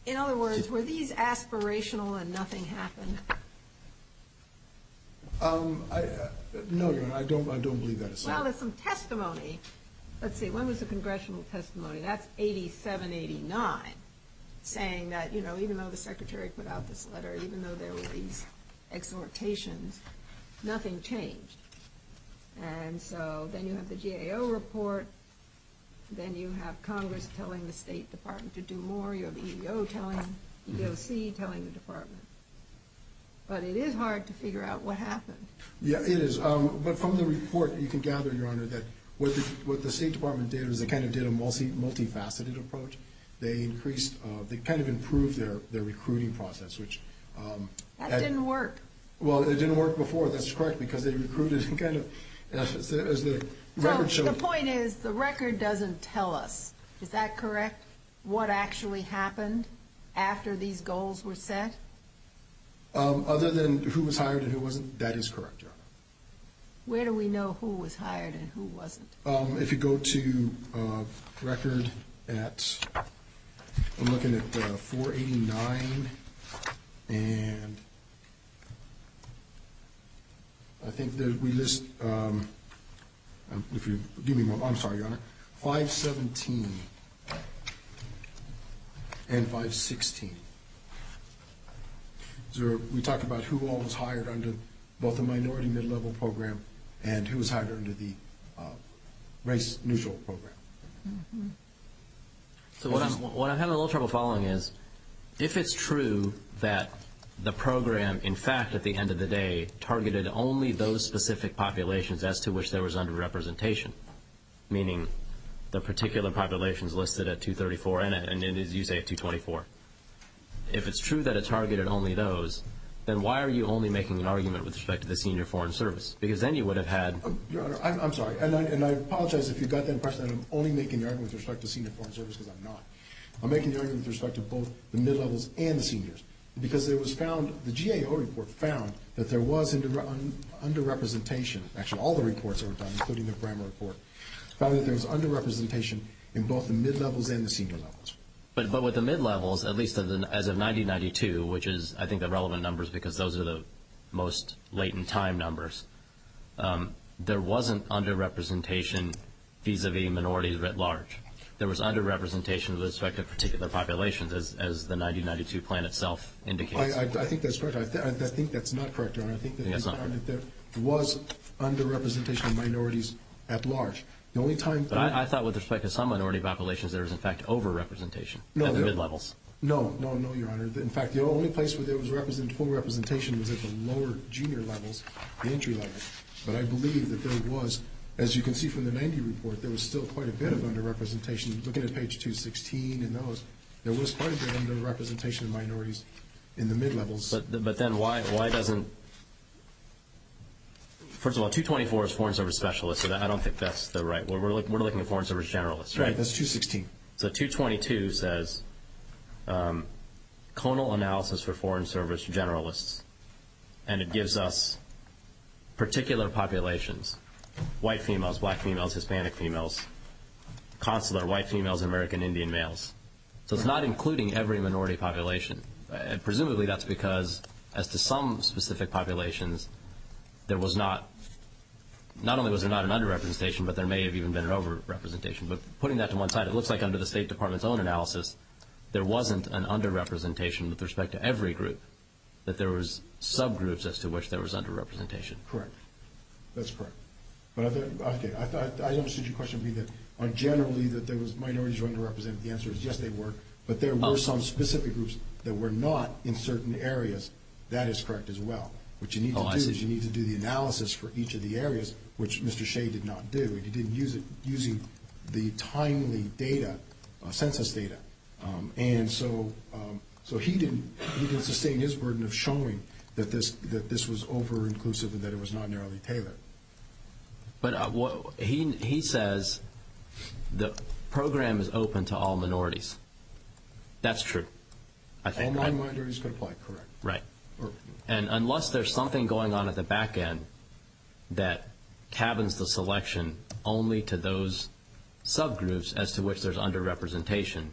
In other words, were these aspirational and nothing happened? No, I don't believe that. Well, there's some testimony. Let's see. When was the congressional testimony? That's 87-89, saying that even though the Secretary put out this letter, even though there was these exhortations, nothing changed. And so then you have the GAO report, then you have Congress telling the State Department to do more. Then you have the EEO telling – you have a CEE telling the Department. But it is hard to figure out what happened. Yeah, it is. But from the report, you can gather, Your Honor, that what the State Department did is they kind of did a multifaceted approach. They increased – they kind of improved their recruiting process, which – That didn't work. Well, it didn't work before. That's correct, because they recruited kind of – as the record shows. The point is, the record doesn't tell us. Is that correct? What actually happened after these goals were set? Other than who was hired and who wasn't? That is correct, Your Honor. Where do we know who was hired and who wasn't? If you go to record at – I'm looking at 489 and I think that we list – I'm sorry, Your Honor – 517 and 516. We talked about who all was hired under both the Minority and Mid-Level Program and who was hired under the Race Neutral Program. So what I'm having a little trouble following is, if it's true that the program, in fact, at the end of the day, targeted only those specific populations as to which there was under-representation, meaning the particular populations listed at 234 and, as you say, at 224, if it's true that it targeted only those, then why are you only making an argument with respect to the Senior Foreign Service? Because then you would have had – Your Honor, I'm sorry, and I apologize if you got that impression that I'm only making an argument with respect to Senior Foreign Service because I'm not. I'm making an argument with respect to both the mid-levels and the seniors because there was found – the GAO report found that there was under-representation – actually, all the reports found, including the Grammar report – found that there was under-representation in both the mid-levels and the senior levels. But with the mid-levels, at least as of 1992, which is, I think, the relevant numbers because those are the most latent time numbers, there wasn't under-representation vis-à-vis minorities at large. There was under-representation with respect to particular populations, as the 1992 plan itself indicated. I think that there was under-representation of minorities at large. The only time – But I thought with respect to some minority populations, there was, in fact, over-representation at the mid-levels. No, no, no, Your Honor. In fact, the only place where there was full representation was at the lower junior levels, the entry levels. But I believe that there was – as you can see from the 1990 report, there was still quite a bit of under-representation. Look at page 216 and those. There was quite a bit of under-representation of minorities in the mid-levels. But then why doesn't – first of all, 224 is Foreign Service Specialists. I don't think that's the right – we're looking at Foreign Service Generalists. Right, that's 216. So 222 says, Conal Analysis for Foreign Service Generalists, and it gives us particular populations, white females, black females, Hispanic females, consular white females, American Indian males. So it's not including every minority population. Presumably that's because as to some specific populations, there was not – not only was there not an under-representation, but there may have even been an over-representation. But putting that to one side, it looks like under the State Department's own analysis, there wasn't an under-representation with respect to every group, that there was sub-groups as to which there was under-representation. Correct. That's correct. But I don't see your question being that – generally that there was minorities who were under-represented. The answer is yes, they were. But there were some specific groups that were not in certain areas. That is correct as well. What you need to do is you need to do the analysis for each of the areas, which Mr. Shea did not do. He didn't use it – using the timely data, census data. And so he didn't – he didn't sustain his burden of showing that this was over-inclusive and that it was not narrowly tailored. But he says the program is open to all minorities. That's true. And non-minorities are quite correct. Right. And unless there's something going on at the back end that cabins the selection only to those sub-groups as to which there's under-representation,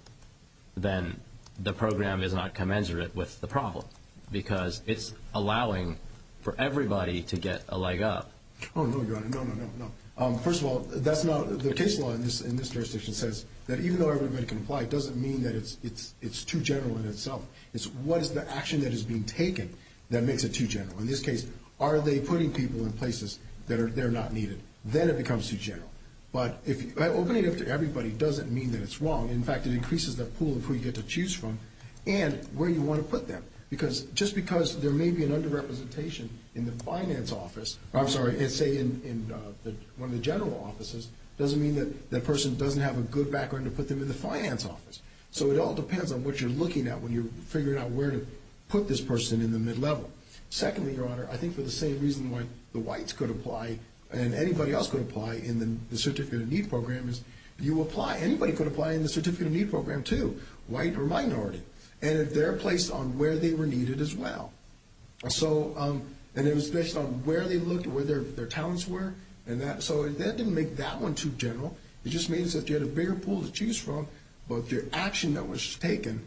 then the program is not commensurate with the problem because it's allowing for everybody to get a leg up. Oh, no, you're right. No, no, no, no. First of all, that's not – the case law in this jurisdiction says that even though everybody can apply, it doesn't mean that it's too general in itself. It's what is the action that is being taken that makes it too general. In this case, are they putting people in places that are – they're not needed? Then it becomes too general. But opening it up to everybody doesn't mean that it's wrong. In fact, it increases the pool of who you get to choose from and where you want to put them. Just because there may be an under-representation in the finance office – I'm sorry, let's say in one of the general offices doesn't mean that that person doesn't have a good background to put them in the finance office. So it all depends on what you're looking at when you're figuring out where to put this person in the mid-level. Secondly, Your Honor, I think for the same reason why the whites could apply and anybody else could apply in the Certificate of Need program is you apply. Anybody could apply in the Certificate of Need program too, white or minority. And they're placed on where they were needed as well. So – and it was based on where they looked and where their talents were. So that didn't make that one too general. It just means that you had a bigger pool to choose from, but the action that was taken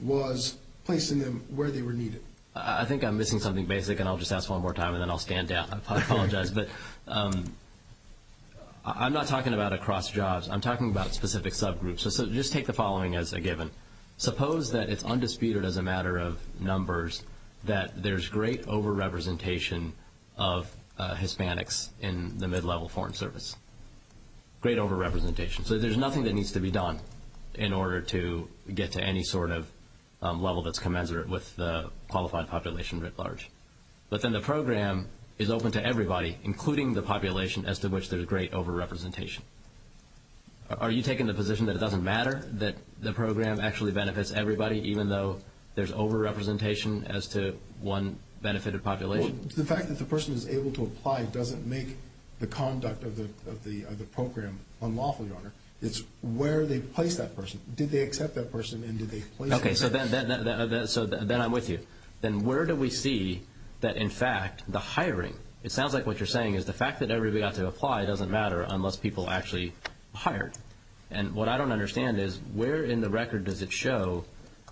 was placing them where they were needed. I think I'm missing something basic, and I'll just ask one more time, and then I'll stand down. I apologize. But I'm not talking about across jobs. I'm talking about specific subgroups. So just take the following as a given. Suppose that it's undisputed as a matter of numbers that there's great overrepresentation of Hispanics in the mid-level Foreign Service, great overrepresentation. So there's nothing that needs to be done in order to get to any sort of level that's commensurate with the qualified population writ large. But then the program is open to everybody, including the population, as to which there's great overrepresentation. Are you taking the position that it doesn't matter, that the program actually benefits everybody, even though there's overrepresentation as to one benefited population? The fact that the person is able to apply doesn't make the conduct of the program unlawful, Your Honor. It's where they've placed that person. Did they accept that person, and did they – Okay, so then I'm with you. Then where do we see that, in fact, the hiring – it sounds like what you're saying is that the ability to apply doesn't matter unless people actually hire. And what I don't understand is where in the record does it show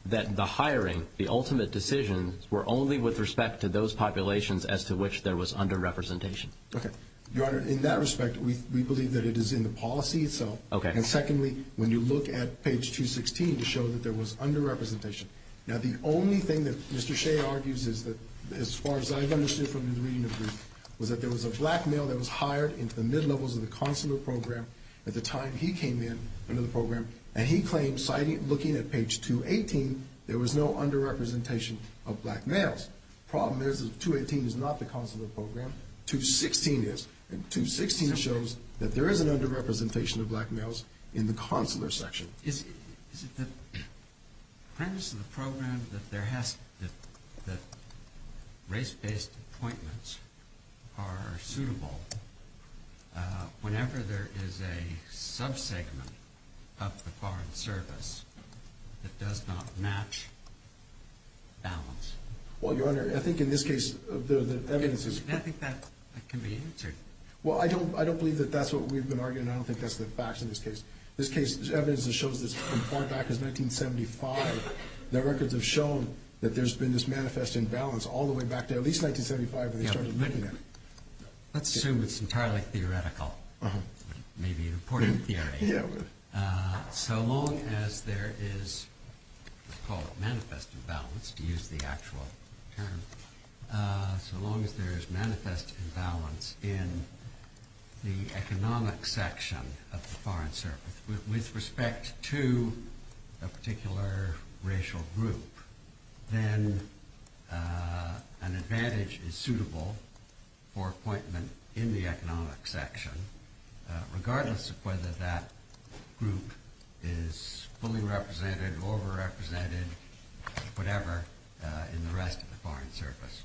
that the hiring, the ultimate decisions, were only with respect to those populations as to which there was underrepresentation? Okay. Your Honor, in that respect, we believe that it is in the policy itself. Okay. And secondly, when you look at page 216, it shows that there was underrepresentation. Now, the only thing that Mr. Shea argues is that, as far as I understood from his reading of this, was that there was a black male that was hired into the mid-levels of the consular program at the time he came in under the program, and he claims, looking at page 218, there was no underrepresentation of black males. The problem is that 218 is not the consular program. 216 is. And 216 shows that there is an underrepresentation of black males in the consular section. It depends on the program that race-based appointments are suitable. Whenever there is a sub-segment of the foreign service that does not match, balance. Well, Your Honor, I think in this case, the evidence is... I don't think that can be answered. Well, I don't believe that that's what we've been arguing. I don't think that's been faxed in this case. This evidence shows that as far back as 1975, the records have shown that there's been this manifest imbalance all the way back to at least 1975. Let's assume it's entirely theoretical. Maybe an important theory. So long as there is manifest imbalance, to use the actual term, so long as there is manifest imbalance in the economic section of the foreign service with respect to a particular racial group, then an advantage is suitable for appointment in the economic section regardless of whether that group is fully represented, overrepresented, whatever, in the rest of the foreign service.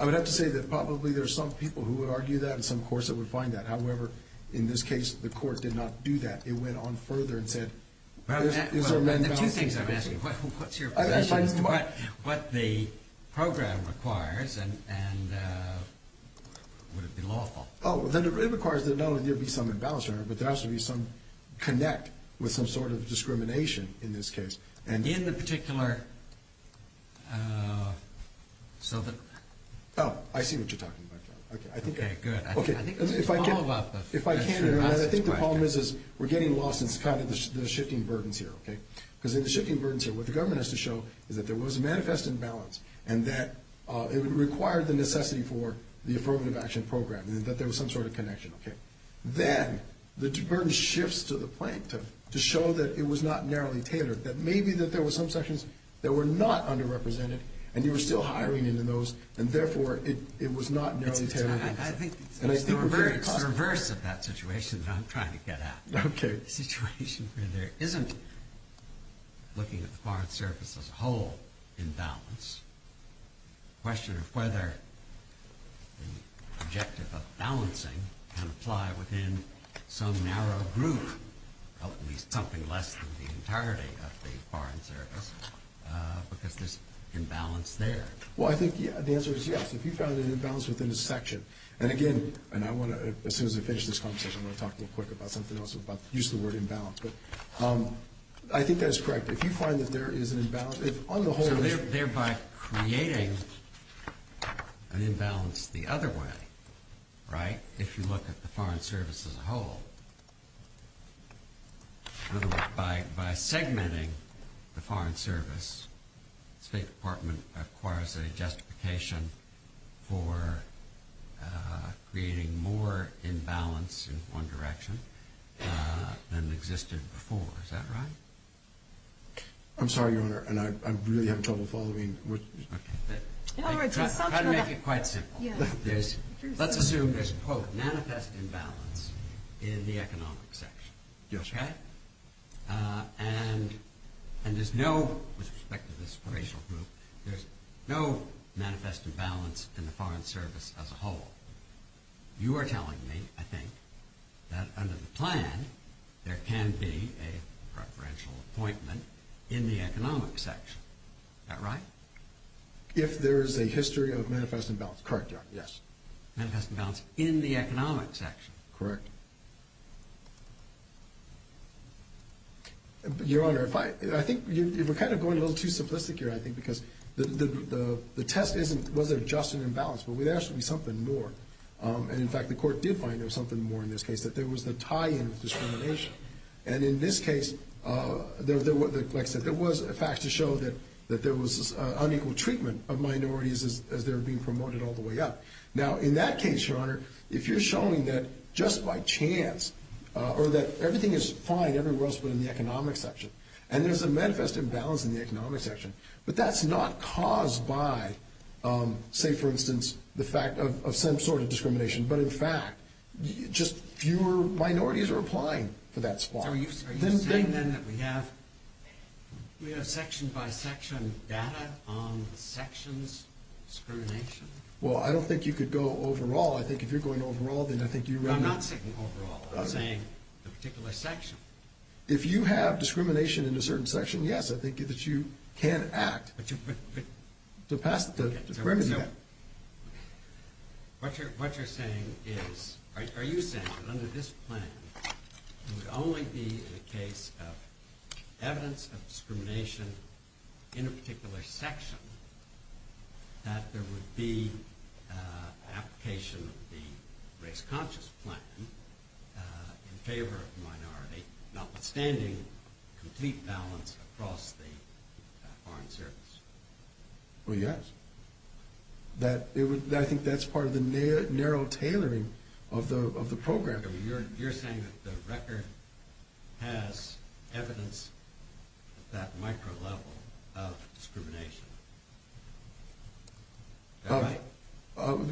I would have to say that probably there's some people who would argue that in some course that would find that. However, in this case, the court did not do that. It went on further and said... There's two things I'm asking. What's your question? What the program requires and would it be lawful? Oh, it requires that not only there be some imbalance, Your Honor, but there has to be some connect with some sort of discrimination in this case. In the particular... Oh, I see what you're talking about. If I can, Your Honor, I think the problem is we're getting lost in the shifting burdens here. Because in the shifting burdens here, what the government has to show is that there was manifest imbalance and that it required the necessity for the affirmative action program and that there was some sort of connection. Then the burden shifts to the plaintiff to show that it was not narrowly tailored, that maybe that there were some sections that were not underrepresented and you were still hiring in those, and therefore it was not narrowly tailored. I think you're very perverse in that situation that I'm trying to get at. Okay. The situation where there isn't, looking at the Foreign Service as a whole, imbalance. The question of whether the objective of balancing can apply within some narrow group, at least something less than the entirety of the Foreign Service, because there's imbalance there. Well, I think the answer is yes. If you found an imbalance within a section. And again, and I want to, as soon as I finish this conversation, I'm going to talk real quick about something else, about the use of the word imbalance. But I think that's correct. If you find that there is an imbalance, on the whole. Thereby creating an imbalance the other way, right? If you look at the Foreign Service as a whole. By segmenting the Foreign Service, the State Department acquires a justification for creating more imbalance in one direction than existed before. Is that right? I'm sorry, Your Honor, and I'm really having trouble following what you're saying. I'll try to make it quite simple. Let's assume there's, quote, manifest imbalance in the economic section. Yes. Okay. And there's no, with respect to this operational group, there's no manifest imbalance in the Foreign Service as a whole. You are telling me, I think, that under the plan, there can be a preferential appointment in the economic section. Is that right? If there is a history of manifest imbalance. Correct, Your Honor, yes. Manifest imbalance in the economic section. Correct. Your Honor, I think you're kind of going a little too simplistic here, I think, because the test isn't whether there's just an imbalance. There has to be something more. And, in fact, the Court did find there was something more in this case, that there was a tie-in of discrimination. And in this case, there was a fact to show that there was unequal treatment of minorities as they were being promoted all the way up. Now, in that case, Your Honor, if you're showing that just by chance, or that everything is fine, everyone else is in the economic section, and there's a manifest imbalance in the economic section, but that's not caused by, say, for instance, the fact of some sort of discrimination. But, in fact, just fewer minorities are applying for that spot. Are you saying, then, that we have section-by-section data on sections discrimination? Well, I don't think you could go overall. I think if you're going overall, then I think you're running... No, I'm not saying overall. I'm saying a particular section. If you have discrimination in a certain section, yes, I think that you can act. What you're saying is, are you saying that under this plan, it would only be a case of evidence of discrimination in a particular section that there would be application of the race-conscious plan in favor of the minority, notwithstanding the complete balance across the Foreign Service? Well, yes. I think that's part of the narrow tailoring of the program. You're saying that the record has evidence of that micro-level of discrimination.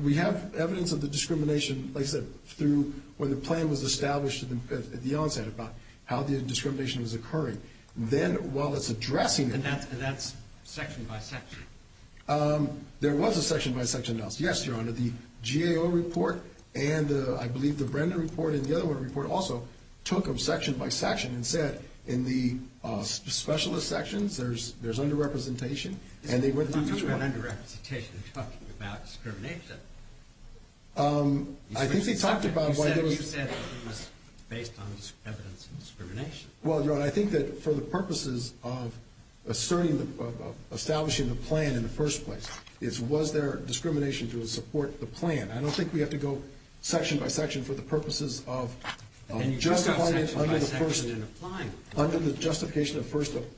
We have evidence of the discrimination, like I said, through where the plan was established at the outset about how the discrimination was occurring. Then, while it's addressing that... And that's section-by-section. There was a section-by-section analysis. Yes, your Honor, the GAO report and, I believe, the Brenda report and the other one report also took them section-by-section and said, in the specialist sections, there's under-representation, and they went through... What do you mean under-representation? You talked about discrimination. I think we talked about... You said it was based on evidence of discrimination. Well, your Honor, I think that for the purposes of asserting, of establishing the plan in the first place, it's was there discrimination to support the plan. I don't think we have to go section-by-section for the purposes of... Under the justification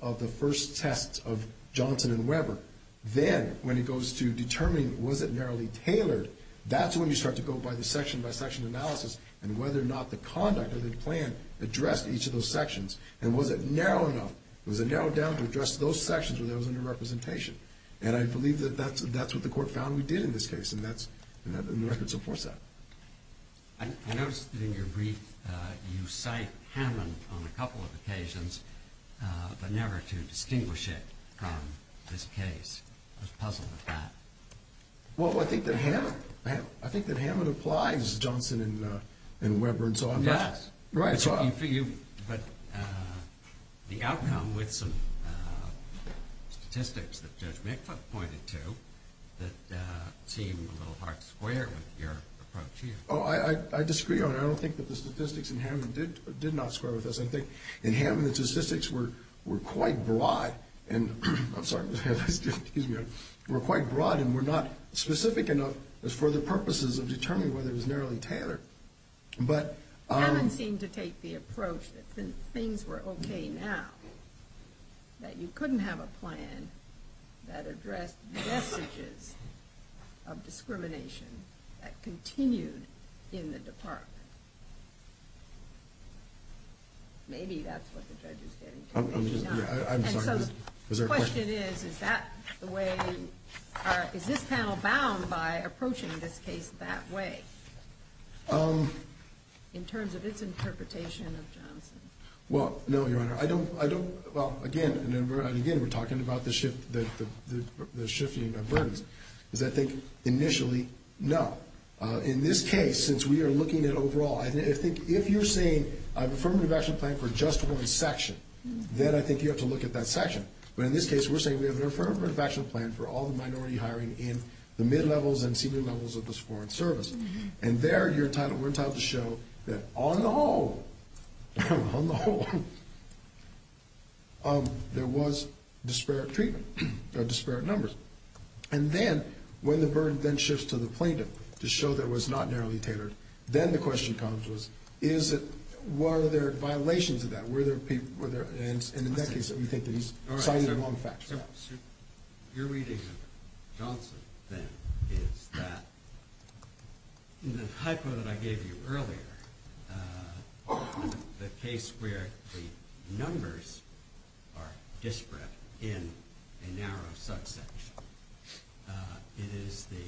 of the first test of Johnson and Weber. Then, when it goes to determining was it narrowly tailored, that's when you start to go by the section-by-section analysis and whether or not the conduct of the plan addressed each of those sections and was it narrow enough, was it narrowed down to address those sections where there was under-representation. And I believe that that's what the court found we did in this case, and the record supports that. I noticed in your brief, you cite Hammond on a couple of occasions, but never to distinguish it from this case. I was puzzled at that. Well, I think that Hammond applies Johnson and Weber and so on. Yes. Right. But the outcome with some statistics that Judge McCluck pointed to that seem a little hard to square with your approach here. Oh, I disagree on it. I don't think that the statistics in Hammond did not square with us. I think in Hammond, the statistics were quite broad and... I'm sorry. Were quite broad and were not specific enough for the purposes of determining whether it was narrowly tailored. Hammond seemed to take the approach that since things were okay now, that you couldn't have a plan that addressed vestiges of discrimination that continued in the department. Maybe that's what the judge said. I'm sorry. The question is, is this panel bound by approaching this case that way? In terms of its interpretation of Johnson? Well, no, Your Honor. I don't... Well, again, we're talking about the shifting of burdens. Does that think initially? No. In this case, since we are looking at overall, I think if you're saying a affirmative action plan for just one section, then I think you have to look at that section. But in this case, we're saying we have an affirmative action plan for all the minority hiring in the mid-levels and senior levels of this foreign service. And there, you're entitled to show that on the whole, on the whole, there was disparate numbers. And then, when the burden then shifts to the plaintiff to show that it was not narrowly tailored, then the question comes is, were there violations of that? And in that case, don't you think that he's citing the wrong facts? Your reading of Johnson, then, is that in the typo that I gave you earlier, the case where the numbers are disparate in a narrow subset, it is the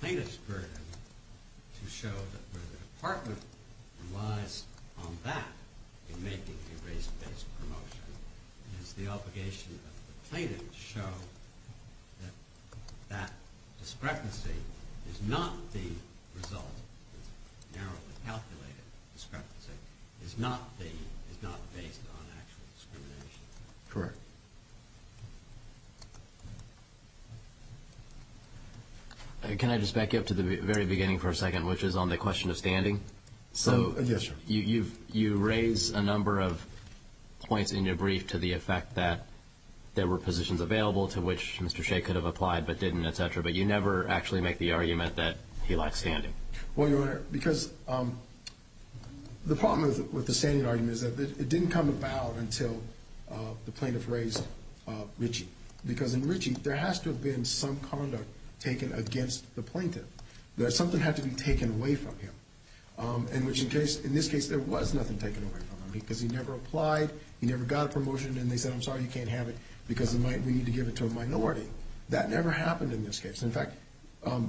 plaintiff's burden to show that the department relies on that in making the race-based promotion. And it's the obligation of the plaintiff to show that that discrepancy is not the result. Narrowly calculated discrepancy is not based on actual discrimination. Correct. Can I just back up to the very beginning for a second, which is on the question of standing? Yes, sir. You raise a number of points in your brief to the effect that there were positions available to which Mr. Shea could have applied but didn't, et cetera, but you never actually make the argument that he lacked standing. Well, Your Honor, because the problem with the standing argument is that it didn't come about until the plaintiff raised Ritchie. Because in Ritchie, there has to have been some conduct taken against the plaintiff. Something had to be taken away from him. In this case, there was nothing taken away from him because he never applied, he never got a promotion, and they said, I'm sorry, you can't have it because we need to give it to a minority. That never happened in this case. In fact, the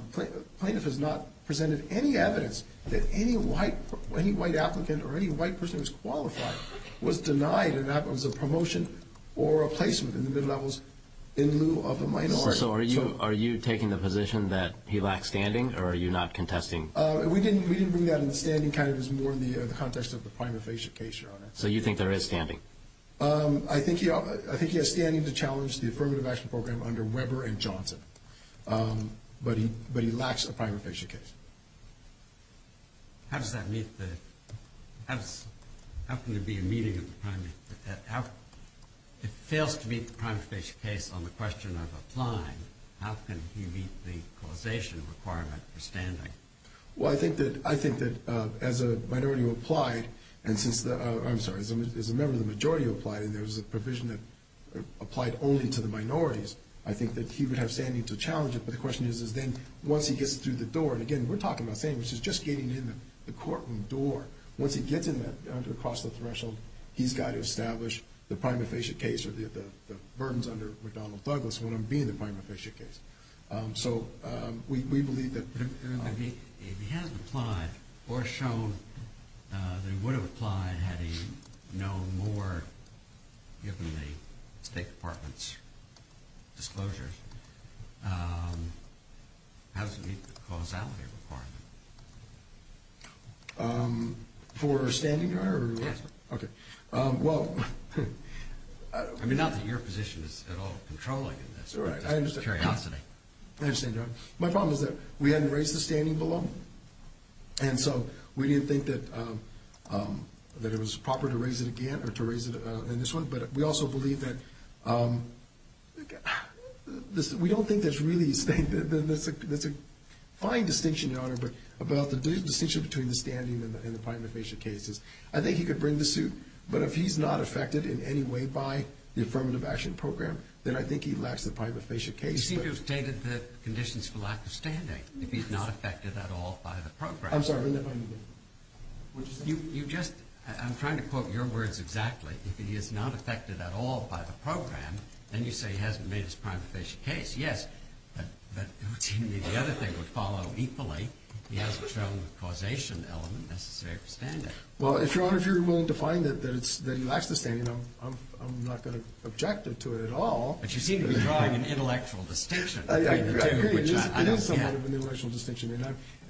plaintiff has not presented any evidence that any white applicant or any white person who's qualified was denied that that was a promotion or a placement in the mid-levels in lieu of a minority. So are you taking the position that he lacked standing, or are you not contesting? We can bring that in standing kind of as more in the context of the primary patient case, Your Honor. So you think there is standing? I think he has standing to challenge the affirmative action program under Weber and Johnson, but he lacks a primary patient case. How does that meet the – how can there be a meeting of the primary – if it fails to meet the primary patient case on the question of applying, how can he meet the causation requirement for standing? Well, I think that as a minority who applied, I'm sorry, as a member of the majority who applied, and there was a provision that applied only to the minorities, I think that he would have standing to challenge it, but the question is then once he gets through the door, and again, we're talking about famous, it's just getting in the courtroom door. Once he gets in there, across the threshold, he's got to establish the primary patient case or the burdens under McDonnell-Buglis when he's going to be in the primary patient case. So we believe that – If he hadn't applied or shown that he would have applied had he known more given the State Department's disclosure, how does it meet the causality requirement? For standing, Your Honor? Okay. Well – I mean, not that your position is at all controlling this. I understand that. My problem is that we hadn't raised the standing below, and so we didn't think that it was proper to raise it again or to raise it in this one, but we also believe that – We don't think that's really – The fine distinction, Your Honor, about the distinction between the standing and the primary patient cases, I think he could bring the suit, but if he's not affected in any way by the Affirmative Action Program, then I think he lacks the primary patient case. You see, you've stated the conditions for lack of standing. He's not affected at all by the program. I'm sorry, what did you say? You just – I'm trying to quote your words exactly. He is not affected at all by the program, and you say he hasn't made his primary patient case. Yes, but the other thing would follow equally. He hasn't traveled with a causation element necessary to stand it. Well, as long as you're willing to find that he lacks the standing, I'm not going to object to it at all. But you seem to be trying an intellectual distinction. I agree. It is somewhat of an intellectual distinction,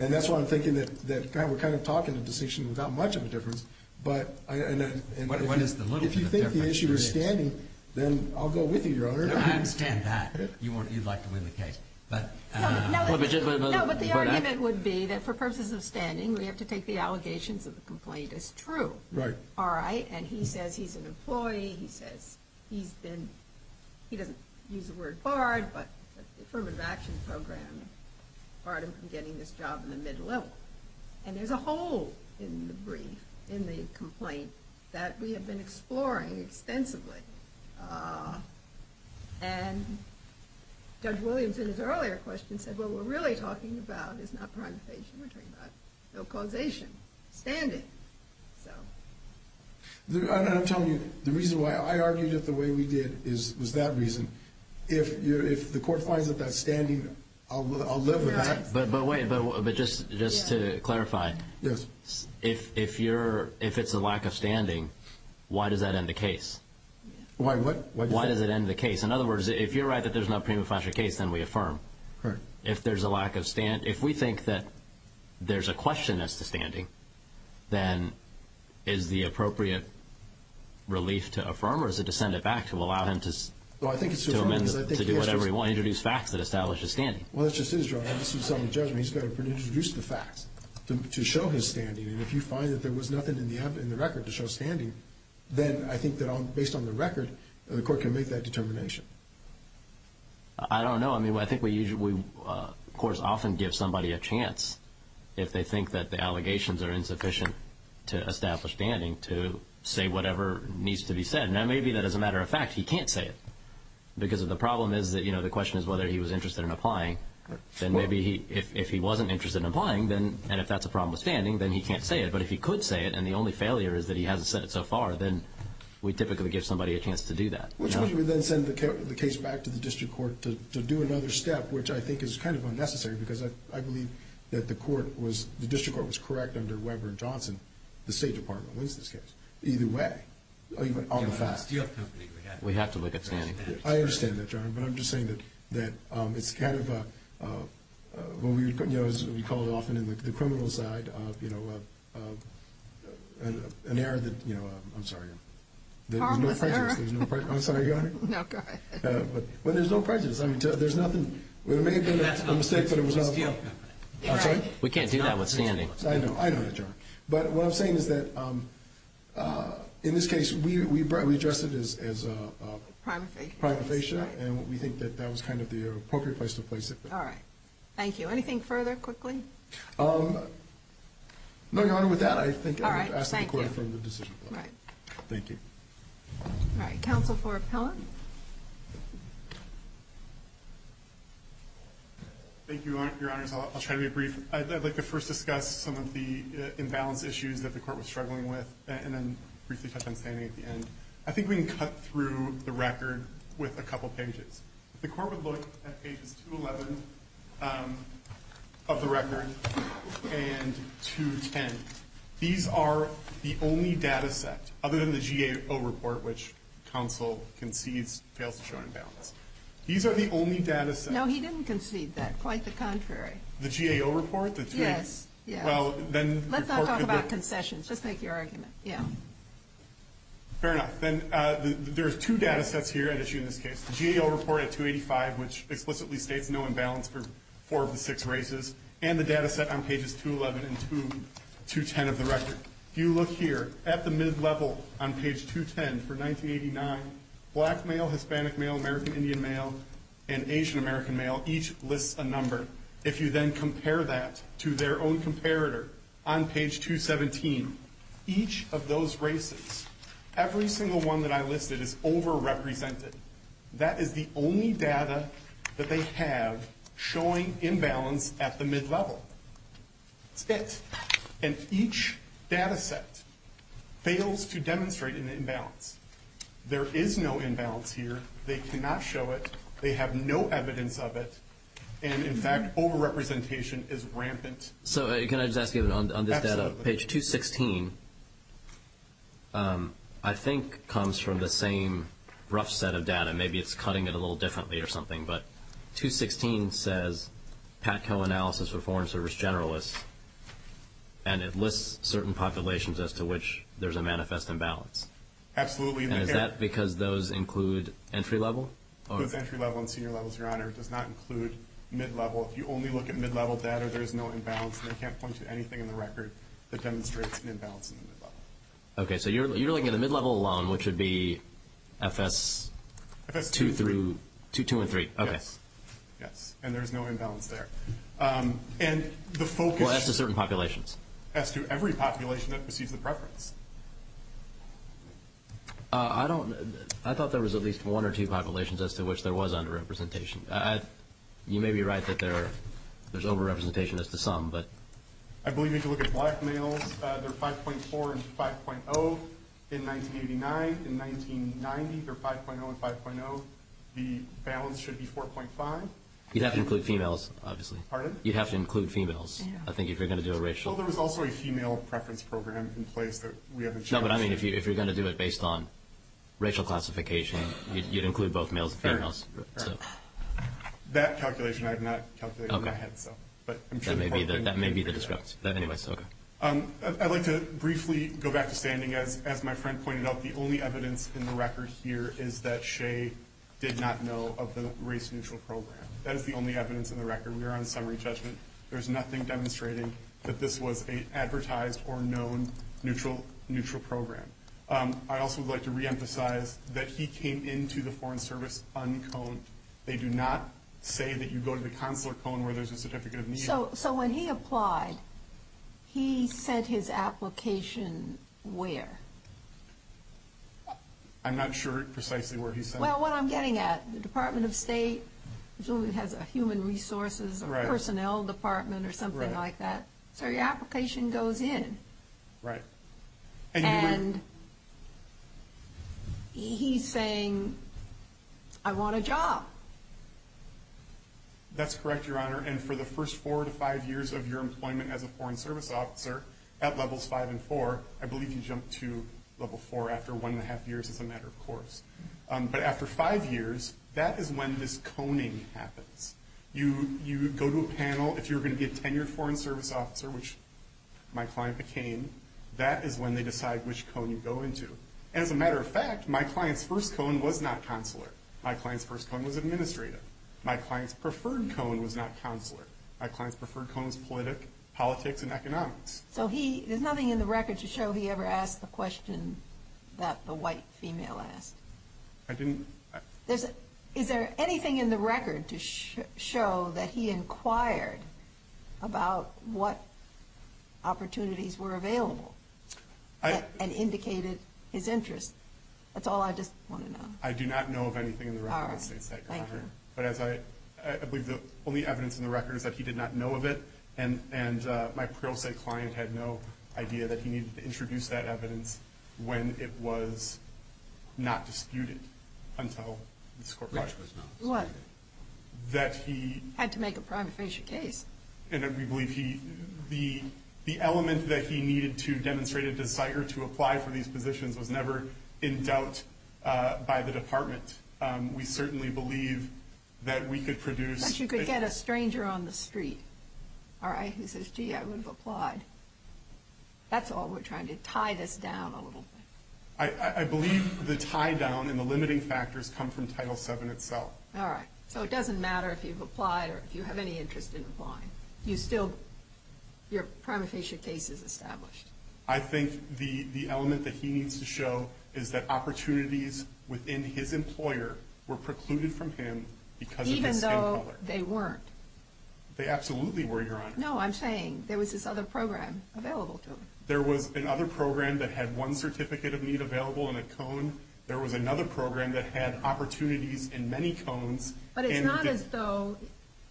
and that's why I'm thinking that we're kind of talking the distinction without much of a difference, but if you think the issue is standing, then I'll go with you, Your Honor. I understand that. You'd like to win the case. No, but the argument would be that for purposes of standing, we have to take the allegations of the complaint as true. Right. All right, and he says he's an employee. He says he's been – he doesn't use the word barred, but the affirmative action program is part of getting this job in the middle of it. And there's a hole in the brief, in the complaint, that we have been exploring extensively. And Doug Williams, in his earlier question, said, what we're really talking about is not pronunciation, but causation, standing. I'm telling you, the reason why I argued it the way we did was that reason. If the court finds that that's standing, I'll live with that. But wait, just to clarify. Yes. If it's a lack of standing, why does that end the case? Why what? Why does it end the case? In other words, if you're right that there's no premature case, then we affirm. Right. If there's a lack of – if we think that there's a question as to standing, then is the appropriate relief to affirm, or is it to send it back to allow him to do whatever he wants, introduce facts that establish his standing? Well, it just is, Joe. Once he's done his judgment, he's got to introduce the facts to show his standing. And if you find that there was nothing in the record to show standing, then I think that based on the record, the court can make that determination. I don't know. I mean, I think we, of course, often give somebody a chance if they think that the allegations are insufficient to establish standing to say whatever needs to be said. Now, maybe that as a matter of fact he can't say it because the problem is that, you know, the question is whether he was interested in applying. Then maybe if he wasn't interested in applying, and if that's a problem with standing, then he can't say it. But if he could say it, and the only failure is that he hasn't said it so far, then we typically give somebody a chance to do that. Which means we then send the case back to the district court to do another step, which I think is kind of unnecessary because I believe that the court was, the district court was correct under Webber and Johnson, the State Department was this case. Either way. We have to look at standing. I understand that, John. But I'm just saying that it's kind of a, as we call it often in the criminal side, you know, an error that, you know, I'm sorry. There's no prejudice. I'm sorry, go ahead. No, go ahead. Well, there's no prejudice. I mean, there's nothing. We're making a mistake, but it was nothing. I'm sorry? We can't do that with standing. I know. I know, John. But what I'm saying is that in this case we addressed it as privatization, and we think that that was kind of the appropriate place to place it. All right. Thank you. Anything further, quickly? No, Your Honor. With that, I think I'm going to ask the court to take a decision. All right. Thank you. All right. Counsel for appellant. Thank you, Your Honor. I'll try to be brief. I'd like to first discuss some of the imbalance issues that the court was struggling with, and then briefly touch on standing at the end. I think we can cut through the record with a couple pages. The court would look at pages 211 of the record and 210. These are the only data sets, other than the GAO report, which counsel concedes fails to show imbalance. These are the only data sets. No, he didn't concede that. Quite the contrary. The GAO report? Yes. Let's not talk about concessions. Let's make your argument. Fair enough. Then there's two data sets here at issue in this case. The GAO report at 285, which explicitly states no imbalance for four of the six races, and the data set on pages 211 and 210 of the record. If you look here at the MIZ level on page 210 for 1989, black male, Hispanic male, American Indian male, and Asian American male, each lists a number. If you then compare that to their own comparator on page 217, each of those races, every single one that I listed is overrepresented. That is the only data that they have showing imbalance at the MIZ level. Six. And each data set fails to demonstrate an imbalance. There is no imbalance here. They cannot show it. They have no evidence of it. And, in fact, overrepresentation is rampant. Can I just ask you on this data, page 216, I think comes from the same rough set of data. Maybe it's cutting it a little differently or something. But 216 says PATCO analysis for foreign service generalists, and it lists certain populations as to which there's a manifest imbalance. Absolutely. Is that because those include entry level? Both entry level and senior levels, Your Honor. It does not include MIZ level. If you only look at mid-level data, there's no imbalance. They can't point to anything in the record that demonstrates an imbalance. Okay. So you're looking at a mid-level alone, which would be FS2 through 213. Okay. Yes. And there's no imbalance there. Well, as to certain populations. As to every population that receives the preference. I thought there was at least one or two populations as to which there was underrepresentation. You may be right that there's overrepresentation as to some, but. I believe if you look at black males, they're 5.4 and 5.0 in 1989. In 1990, they're 5.0 and 5.0. The balance should be 4.5. You'd have to include females, obviously. Pardon? You'd have to include females, I think, if you're going to do a racial. Well, there was also a female preference program in place, but we haven't shown that. No, but I mean if you're going to do it based on racial classification, you'd include both males and females. That calculation I have not calculated in my head. Okay. That may be the discussion. I'd like to briefly go back to standing. As my friend pointed out, the only evidence in the records here is that Shay did not know of the race neutral program. That is the only evidence in the record. We are on summary assessment. There's nothing demonstrating that this was an advertised or known neutral program. I also would like to reemphasize that he came into the Foreign Service on Cone. They do not say that you go to the consular cone where there's a certificate of need. So when he applied, he sent his application where? I'm not sure precisely where he sent it. Well, what I'm getting at, the Department of State, assuming it has a human resources or personnel department or something like that. So your application goes in. Right. And he's saying, I want a job. That's correct, Your Honor. And for the first four to five years of your employment as a Foreign Service officer, at Level 5 and 4, I believe you jumped to Level 4 after one and a half years, as a matter of course. But after five years, that is when this coning happens. You go to a panel. If you're going to be a tenured Foreign Service officer, which my client became, that is when they decide which cone you go into. As a matter of fact, my client's first cone was not consular. My client's first cone was administrative. My client's preferred cone was not consular. My client's preferred cone was politics and economics. So there's nothing in the record to show he ever asked the question that the white female asked. I didn't. Is there anything in the record to show that he inquired about what opportunities were available and indicated his interest? That's all I just want to know. I do not know of anything in the record. All right. Thank you. The only evidence in the record is that he did not know of it, and my apparel site client had no idea that he needed to introduce that evidence when it was not disputed until this corporation was not. What? That he... Had to make a prima facie case. And that we believe he... The elements that he needed to demonstrate his desire to apply for these positions was never in doubt by the department. We certainly believe that we could produce... That you could get a stranger on the street, all right, who says, gee, I would have applied. That's all. We're trying to tie this down a little bit. I believe the tie-down and the limiting factors come from Title VII itself. All right. So it doesn't matter if you've applied or if you have any interest in applying. You still... Your prima facie case is established. I think the element that he needs to show is that opportunities within his employer were precluded from him because... Even though they weren't. They absolutely were, Your Honor. No, I'm saying there was this other program available to him. There was another program that had one certificate of need available in a cone. There was another program that had opportunities in many cones. But it's not as though,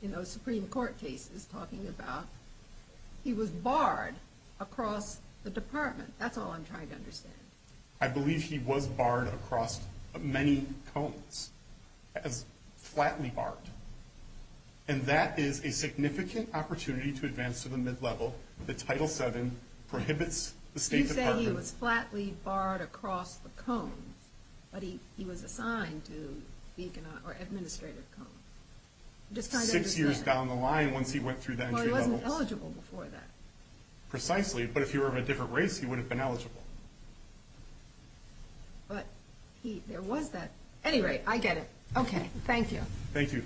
you know, Supreme Court case is talking about. He was barred across the department. That's all I'm trying to understand. I believe he was barred across many cones, flatly barred. And that is a significant opportunity to advance to the mid-level. The Title VII prohibits the state... He said he was flatly barred across the cone. But he was assigned to speak in an administrative cone. Six years down the line once he went through that mid-level. Well, he wasn't eligible before that. Precisely. But if he were of a different race, he wouldn't have been eligible. But there was that. Anyway, I get it. Okay. Thank you. Thank you.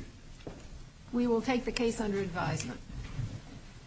We will take the case under advisement.